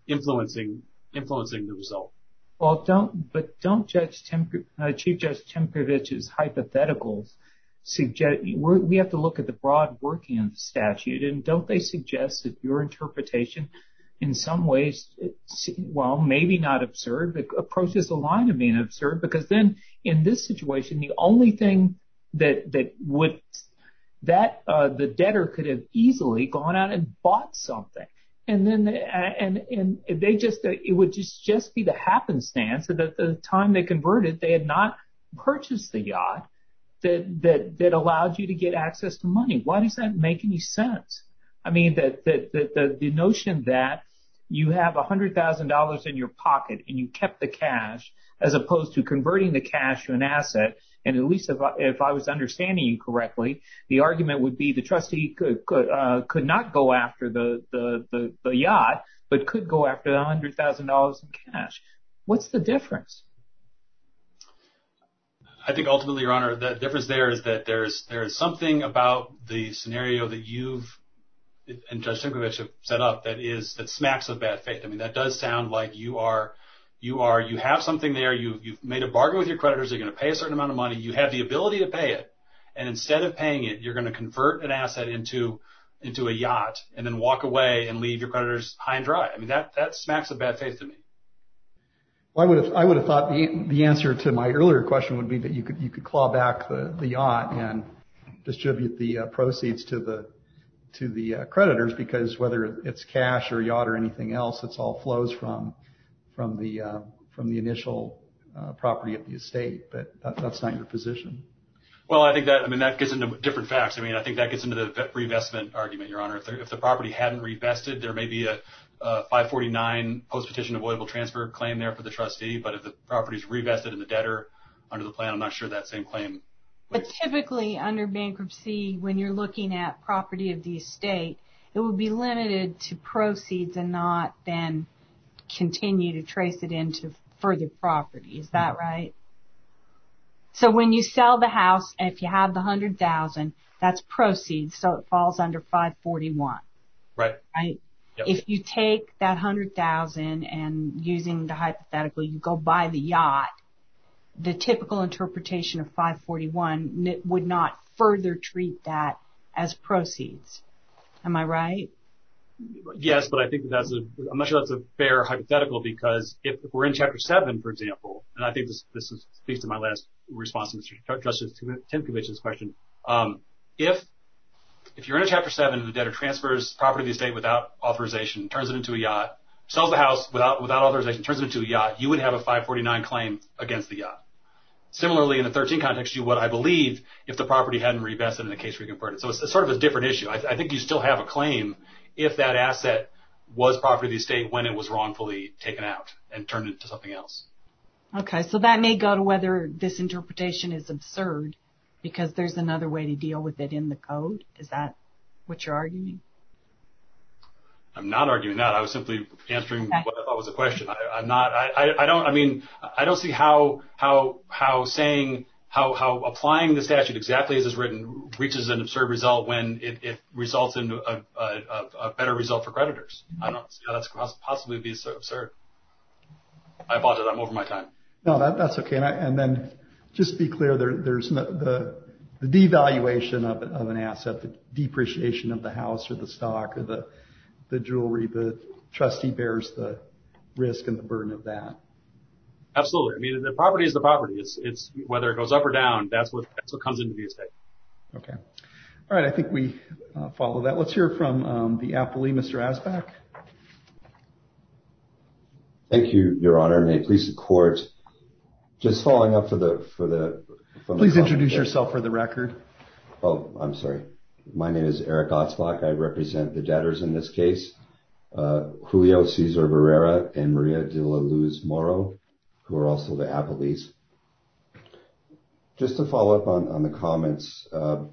influencing the result. Well, but don't Judge, Chief Judge Tempovich's hypotheticals suggest, we have to look at the broad working of the statute, and don't they suggest that your interpretation, in some ways, well, maybe not absurd, but approaches align to being absurd, because then, in this situation, the only thing that would, the debtor could have easily gone out and bought something. And then, and they just, it would just be the happenstance that at the time they converted, they had not purchased the yacht that allowed you to get access to money. Why does that make any sense? I mean, the notion that you have $100,000 in your pocket, and you kept the cash, as opposed to converting the cash to an asset, and at least, if I was understanding you correctly, the argument would be the trustee could not go after the yacht, but could go after the $100,000 in cash. What's the difference? I think, ultimately, Your Honor, the difference there is that there's something about the scenario that you and Judge Simcovich have set up that is, that smacks of bad faith. I mean, that does sound like you are, you have something there, you've made a bargain with your creditors, they're gonna pay a certain amount of money, you have the ability to pay it, and instead of paying it, you're gonna convert an asset into a yacht, and then walk away and leave your creditors high and dry. I mean, that smacks of bad faith to me. I would have thought the answer to my earlier question would be that you could claw back the yacht, and distribute the proceeds to the creditors, because whether it's cash, or yacht, or anything else, it all flows from the initial property of the estate, but that's not your position. Well, I think that, I mean, that gets into different facts. I mean, I think that gets into the reinvestment argument, Your Honor. If the property hadn't reinvested, there may be a 549 post-petition avoidable transfer claim there for the trustee, but if the property's reinvested in the debtor under the plan, I'm not sure that same claim. But typically, under bankruptcy, when you're looking at property of the estate, it would be limited to proceeds, and not then continue to trace it into further property. Is that right? So when you sell the house, and if you have the 100,000, that's proceeds, so it falls under 541. Right. If you take that 100,000, and using the hypothetical, you go buy the yacht, the typical interpretation of 541 would not further treat that as proceeds. Am I right? Yes, but I think that's a, I'm not sure that's a fair hypothetical, because if we're in Chapter 7, for example, and I think this speaks to my last response to Mr. Trustee's 10th Committee's question, if you're in Chapter 7 and the debtor transfers property of the estate without authorization, turns it into a yacht, sells the house without authorization, turns it into a yacht, you would have a 549 claim against the yacht. Similarly, in the 13 context, you would, I believe, if the property hadn't re-vested and the case re-converted. So it's sort of a different issue. I think you still have a claim if that asset was property of the estate when it was wrongfully taken out and turned into something else. Okay, so that may go to whether this interpretation is absurd, because there's another way to deal with it in the code. Is that what you're arguing? I'm not arguing that. I was simply answering what I thought was a question. I'm not, I don't, I mean, I don't see how saying, how applying the statute exactly as it's written reaches an absurd result when it results in a better result for creditors. I don't see how that's possibly be so absurd. I apologize, I'm over my time. No, that's okay, and then just be clear, there's the devaluation of an asset, the depreciation of the house or the stock or the jewelry, the trustee bears the risk and the burden of that. Absolutely, I mean, the property is the property. It's whether it goes up or down, that's what comes into the estate. Okay, all right, I think we follow that. Let's hear from the appellee, Mr. Asbach. Thank you, Your Honor, and may it please the court, just following up for the, for the, Please introduce yourself for the record. Oh, I'm sorry. My name is Eric Asbach. I represent the debtors in this case, Julio Cesar Barrera and Maria de la Luz Moro, who are also the appellees. Just to follow up on the comments, I've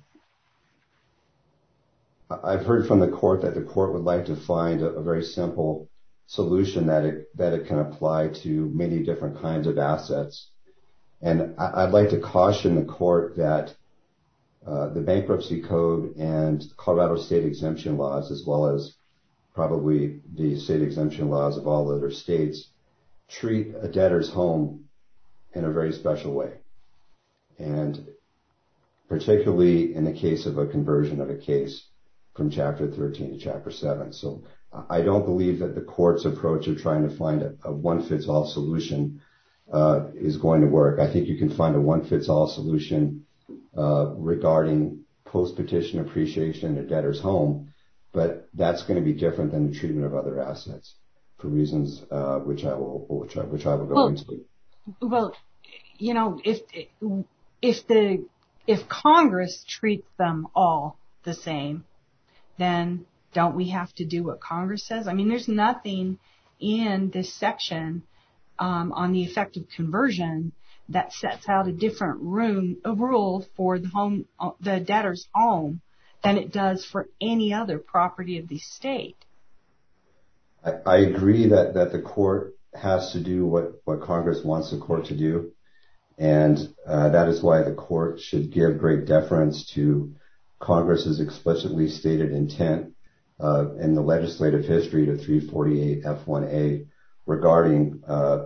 heard from the court that the court would like to find a very simple solution that it can apply to many different kinds of assets. And I'd like to caution the court that the Bankruptcy Code and Colorado State Exemption Laws, as well as probably the State Exemption Laws of all other states, treat a debtor's home in a very special way. And particularly in the case of a conversion of a case from Chapter 13 to Chapter 7. So I don't believe that the court's approach of trying to find a one-fits-all solution is going to work. I think you can find a one-fits-all solution regarding post-petition appreciation a debtor's home, but that's going to be different than the treatment of other assets for reasons which I will go into. Well, you know, if Congress treats them all the same, then don't we have to do what Congress says? I mean, there's nothing in this section on the effect of conversion that sets out a different rule for the debtor's home than it does for any other property of the state. I agree that the court has to do what Congress wants the court to do. And that is why the court should give great deference to Congress's explicitly stated intent in the legislative history to 348 F1A regarding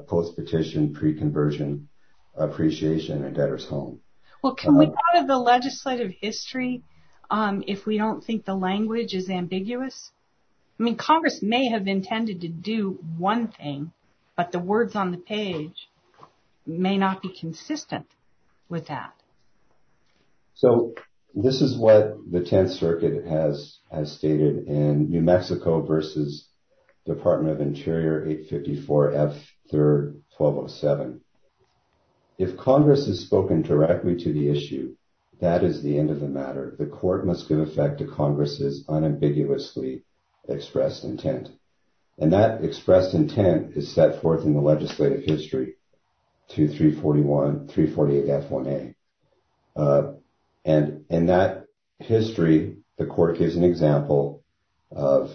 post-petition pre-conversion appreciation a debtor's home. Well, can we part of the legislative history if we don't think the language is ambiguous? I mean, Congress may have intended to do one thing, but the words on the page may not be consistent with that. So this is what the 10th Circuit has stated in New Mexico versus Department of Interior 854 F3-1207. If Congress has spoken directly to the issue, that is the end of the matter. The court must give effect to Congress's unambiguously expressed intent. And that expressed intent is set forth in the legislative history to 348 F1A. And in that history, the court gives an example of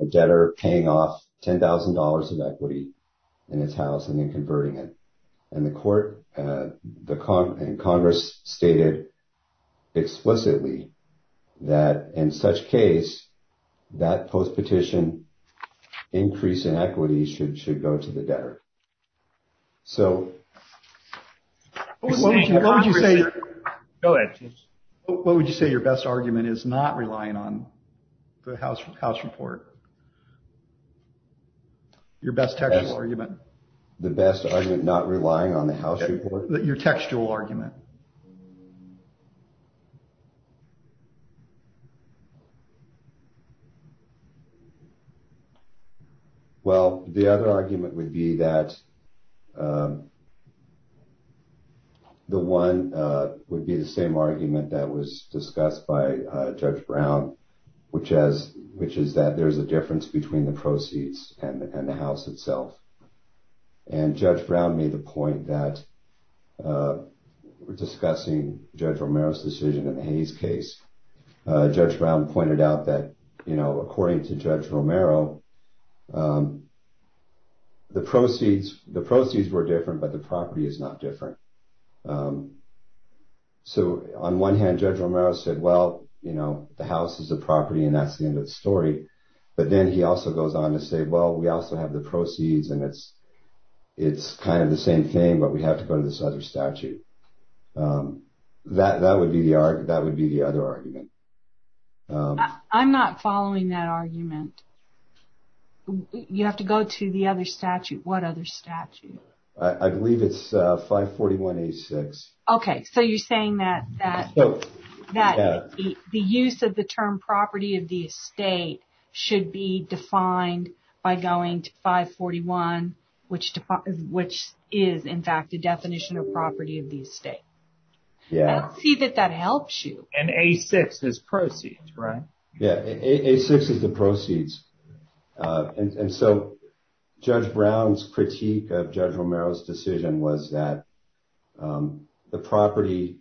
a debtor paying off $10,000 of equity in his house and then converting it. And Congress stated explicitly that in such case that post-petition increase in equity should go to the debtor. So. What would you say your best argument is not relying on the house report? Your best textual argument? The best argument not relying on the house report? Your textual argument. Go ahead. Well, the other argument would be that the one would be the same argument that was discussed by Judge Brown, which is that there's a difference between the proceeds and the house itself. And Judge Brown made the point that we're discussing Judge Romero's decision in the Hayes case. Judge Brown pointed out that according to Judge Romero, the proceeds were different, but the property is not different. So on one hand, Judge Romero said, well, the house is the property and that's the end of the story. But then he also goes on to say, well, we also have the proceeds and it's kind of the same thing, but we have to go to this other statute. That would be the other argument. I'm not following that argument. You have to go to the other statute. What other statute? I believe it's 541-86. Okay, so you're saying that the use of the term property of the estate should be defined by going to 541, which is, in fact, the definition of property of the estate. Let's see that that helps you. And A6 is proceeds, right? Yeah, A6 is the proceeds. And so Judge Brown's critique of Judge Romero's decision was that the property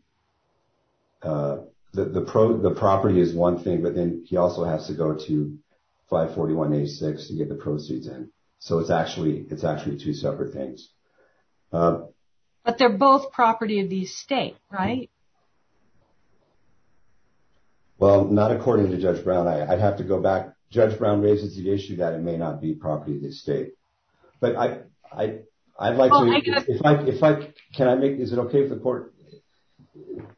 is one thing, but then he also has to go to 541-86 to get the proceeds in. So it's actually two separate things. But they're both property of the estate, right? Well, not according to Judge Brown. I'd have to go back. Judge Brown raises the issue that it may not be property of the estate. But I'd like to, if I, can I make, is it okay if the court,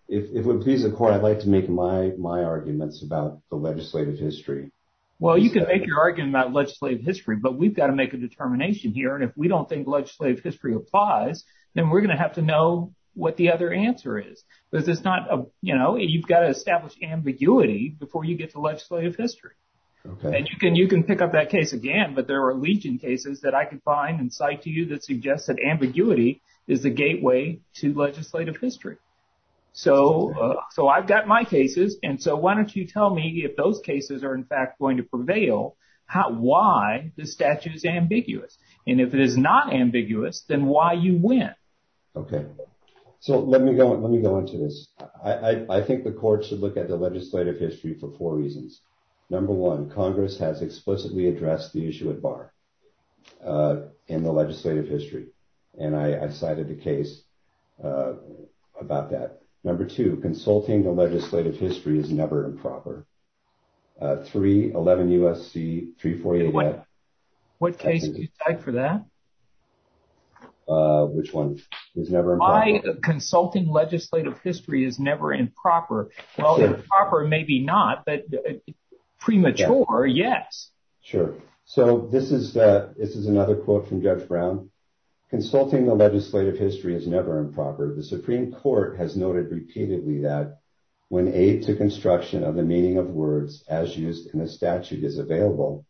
if it would please the court, I'd like to make my arguments about the legislative history. Well, you can make your argument about legislative history, but we've got to make a determination here. And if we don't think legislative history applies, then we're going to have to know what the other answer is. Because it's not, you've got to establish ambiguity before you get to legislative history. And you can pick up that case again, but there are legion cases that I could find and cite to you that suggests that ambiguity is the gateway to legislative history. So I've got my cases. And so why don't you tell me if those cases are in fact going to prevail, why the statute is ambiguous? And if it is not ambiguous, then why you went? Okay. So let me go into this. I think the court should look at the legislative history for four reasons. Number one, Congress has explicitly addressed the issue at bar in the legislative history. And I cited the case about that. Number two, consulting the legislative history is never improper. Three, 11 U.S.C. 348-F. What case did you cite for that? Which one? It's never improper. Consulting legislative history is never improper. Well, improper maybe not, but premature, yes. Sure. So this is another quote from Judge Brown. Consulting the legislative history is never improper. The Supreme Court has noted repeatedly that when aid to construction of the meaning of words as used in a statute is available,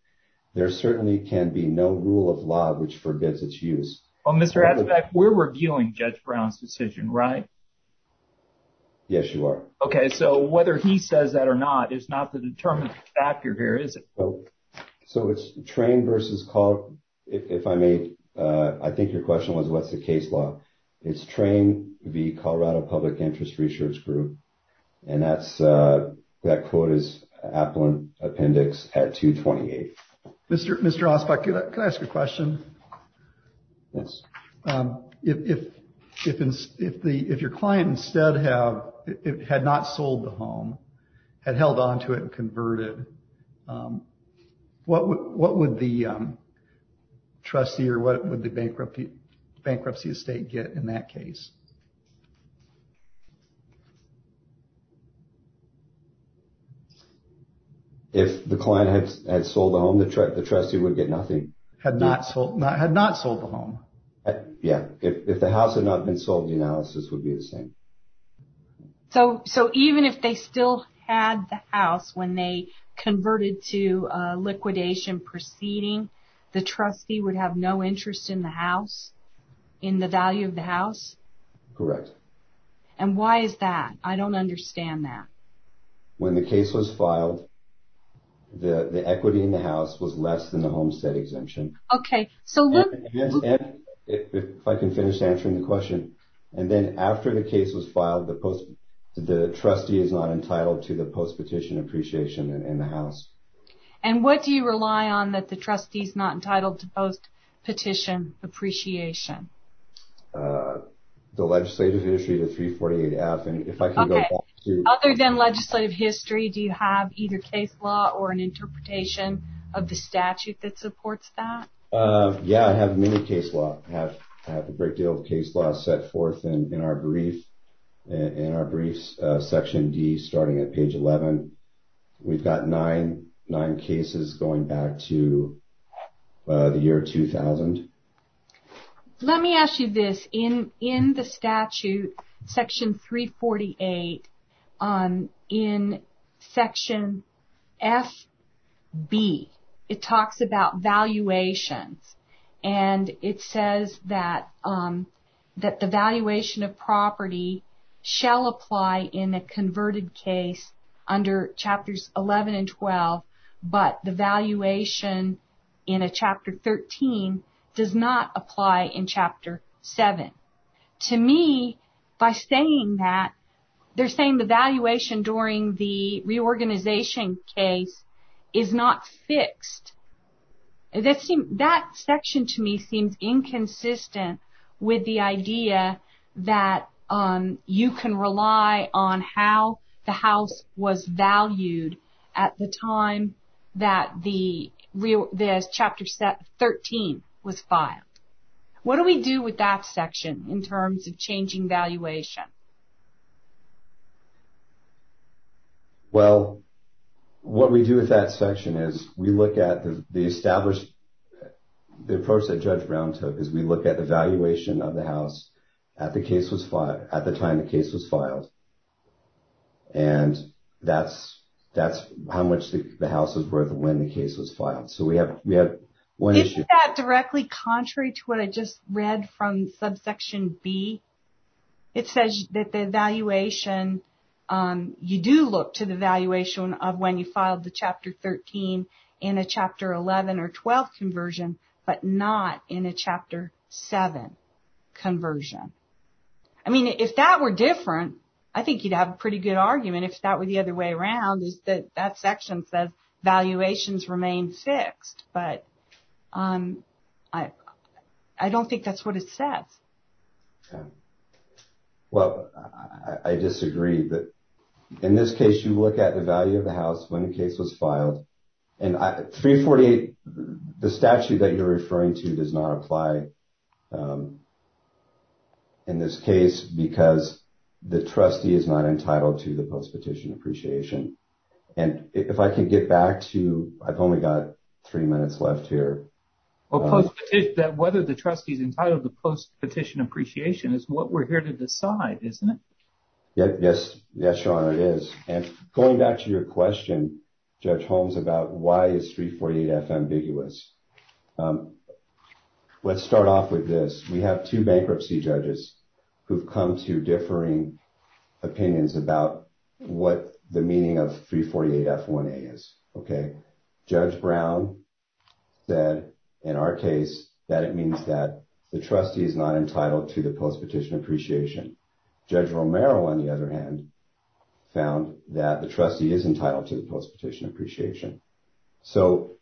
there certainly can be no rule of law which forbids its use. Well, Mr. Asbeck, we're reviewing Judge Brown's decision, right? Yes, you are. Okay, so whether he says that or not is not the determined factor here, is it? So it's train versus call. If I may, I think your question was what's the case law. It's train v. Colorado Public Interest Research Group. And that quote is appellant appendix at 228. Mr. Asbeck, can I ask a question? Yes. If your client instead had not sold the home, had held onto it and converted, what would the trustee or what would the bankruptcy estate get in that case? If the client had sold the home, the trustee would get nothing. Had not sold the home. Yeah, if the house had not been sold, the analysis would be the same. So even if they still had the house when they converted to liquidation proceeding, the trustee would have no interest in the house, in the value of the house? No. No. Correct. And why is that? I don't understand that. When the case was filed, the equity in the house was less than the homestead exemption. Okay, so look- And if I can finish answering the question, and then after the case was filed, the trustee is not entitled to the post-petition appreciation in the house. And what do you rely on that the trustee's not entitled to post-petition appreciation? The legislative history, the 348-F, and if I can go back to- Okay, other than legislative history, do you have either case law or an interpretation of the statute that supports that? Yeah, I have many case law. I have a great deal of case law set forth in our briefs, Section D, starting at page 11. We've got nine cases going back to the year 2000. Let me ask you this. In the statute, Section 348, in Section F.B., it talks about valuations. And it says that the valuation of property shall apply in a converted case under Chapters 11 and 12, but the valuation in a Chapter 13 does not apply in Chapter 7. To me, by saying that, they're saying the valuation during the reorganization case is not fixed. That section, to me, seems inconsistent with the idea that you can rely on how the house was valued at the time that the Chapter 13 was filed. What do we do with that section in terms of changing valuation? Well, what we do with that section is we look at the established, the approach that Judge Brown took is we look at the valuation of the house at the time the case was filed. And that's how much the house was worth when the case was filed. So we have one issue. Isn't that directly contrary to what I just read from Subsection B? It says that the valuation, you do look to the valuation of when you filed the Chapter 13 in a Chapter 11 or 12 conversion, but not in a Chapter 7 conversion. I mean, if that were different, I think you'd have a pretty good argument if that were the other way around, is that that section says valuations remain fixed, but I don't think that's what it says. Well, I disagree, but in this case, you look at the value of the house when the case was filed, and 348, the statute that you're referring to does not apply in this case because the trustee is not entitled to the post-petition appreciation. And if I can get back to, I've only got three minutes left here. Well, post-petition, that whether the trustee's entitled to post-petition appreciation is what we're here to decide, isn't it? Yes, yes, Sean, it is. And going back to your question, Judge Holmes, about why is 348F ambiguous? Let's start off with this. We have two bankruptcy judges who've come to differing opinions about what the meaning of 348F1A is, okay? Judge Brown said, in our case, that it means that the trustee is not entitled to the post-petition appreciation. Judge Romero, on the other hand, found that the trustee is entitled to the post-petition appreciation. So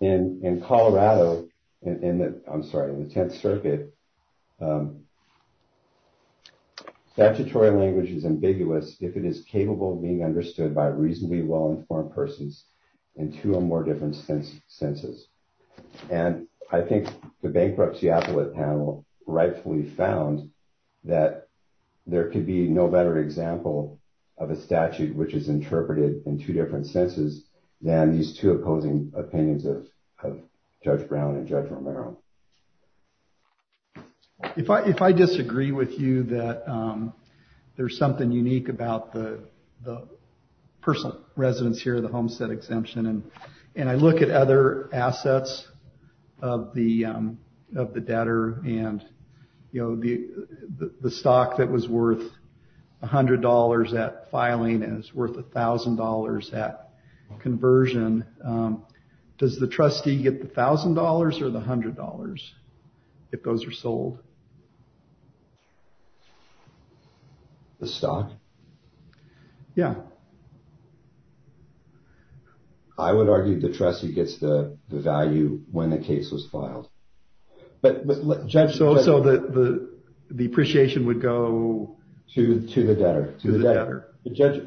in Colorado, I'm sorry, in the 10th Circuit, statutory language is ambiguous if it is capable of being understood by reasonably well-informed persons in two or more different senses. And I think the Bankruptcy Appellate Panel rightfully found that there could be no better example of a statute which is interpreted in two different senses than these two opposing opinions of Judge Brown and Judge Romero. If I disagree with you that there's something unique about the personal residence here, the Homestead exemption, and I look at other assets of the debtor and the stock that was worth $100, that filing is worth $1,000 at conversion, does the trustee get the $1,000 or the $100 if those are sold? The stock? Yeah. I would argue the trustee gets the value when the case was filed. Judge, so the appreciation would go... Judge,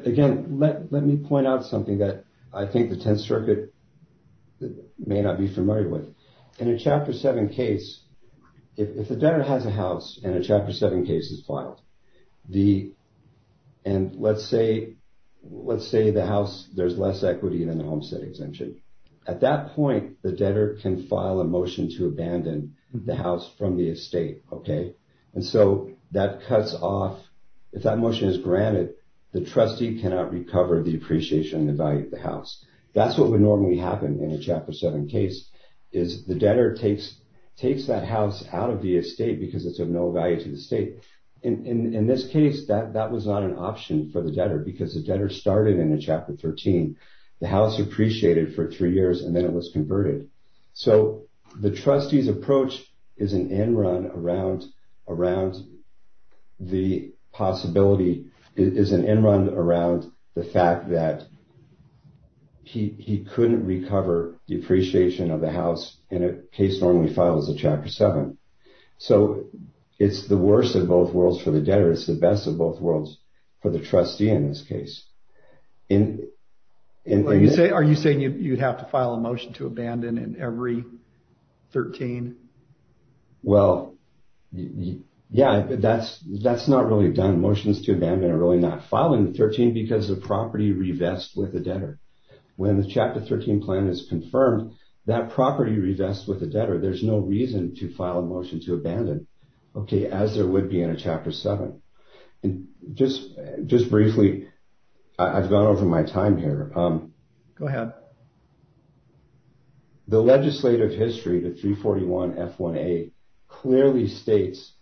again, let me point out something that I think the 10th Circuit may not be familiar with. In a Chapter 7 case, if the debtor has a house and a Chapter 7 case is filed, and let's say the house, there's less equity than the Homestead exemption. At that point, the debtor can file a motion to abandon the house from the estate, okay? And so that cuts off, if that motion is granted, the trustee cannot recover the appreciation and the value of the house. That's what would normally happen in a Chapter 7 case is the debtor takes that house out of the estate because it's of no value to the state. In this case, that was not an option for the debtor because the debtor started in a Chapter 13. The house appreciated for three years and then it was converted. So the trustee's approach is an end run around the possibility, is an end run around the fact that he couldn't recover the appreciation of the house in a case normally filed as a Chapter 7. So it's the worst of both worlds for the debtor. It's the best of both worlds for the trustee in this case. Are you saying you'd have to file a motion to abandon in every 13? Well, yeah, that's not really done. Motions to abandon are really not filing the 13 because the property revests with the debtor. When the Chapter 13 plan is confirmed, that property revests with the debtor. There's no reason to file a motion to abandon, okay, as there would be in a Chapter 7. And just briefly, I've gone over my time here. Go ahead. The legislative history, the 341 F1A, clearly states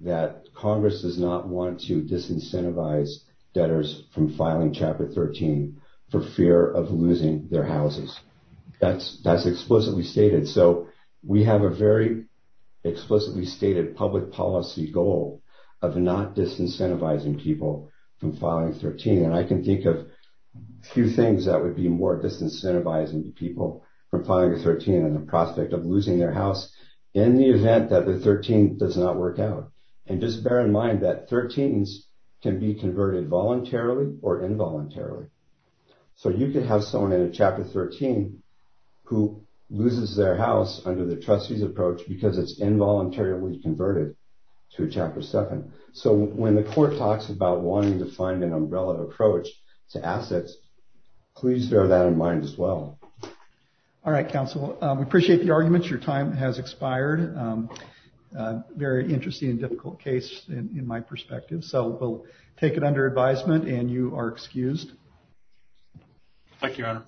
that Congress does not want to disincentivize debtors from filing Chapter 13 for fear of losing their houses. That's explicitly stated. So we have a very explicitly stated public policy goal of not disincentivizing people from filing 13. And I can think of a few things that would be more disincentivizing to people from filing a 13 and the prospect of losing their house in the event that the 13 does not work out. And just bear in mind that 13s can be converted voluntarily or involuntarily. So you could have someone in a Chapter 13 who loses their house under the trustee's approach because it's involuntarily converted to a Chapter 7. So when the court talks about wanting to find an umbrella approach to assets, please bear that in mind as well. All right, counsel. We appreciate the arguments. Your time has expired. Very interesting and difficult case in my perspective. So we'll take it under advisement and you are excused. Thank you, Your Honor.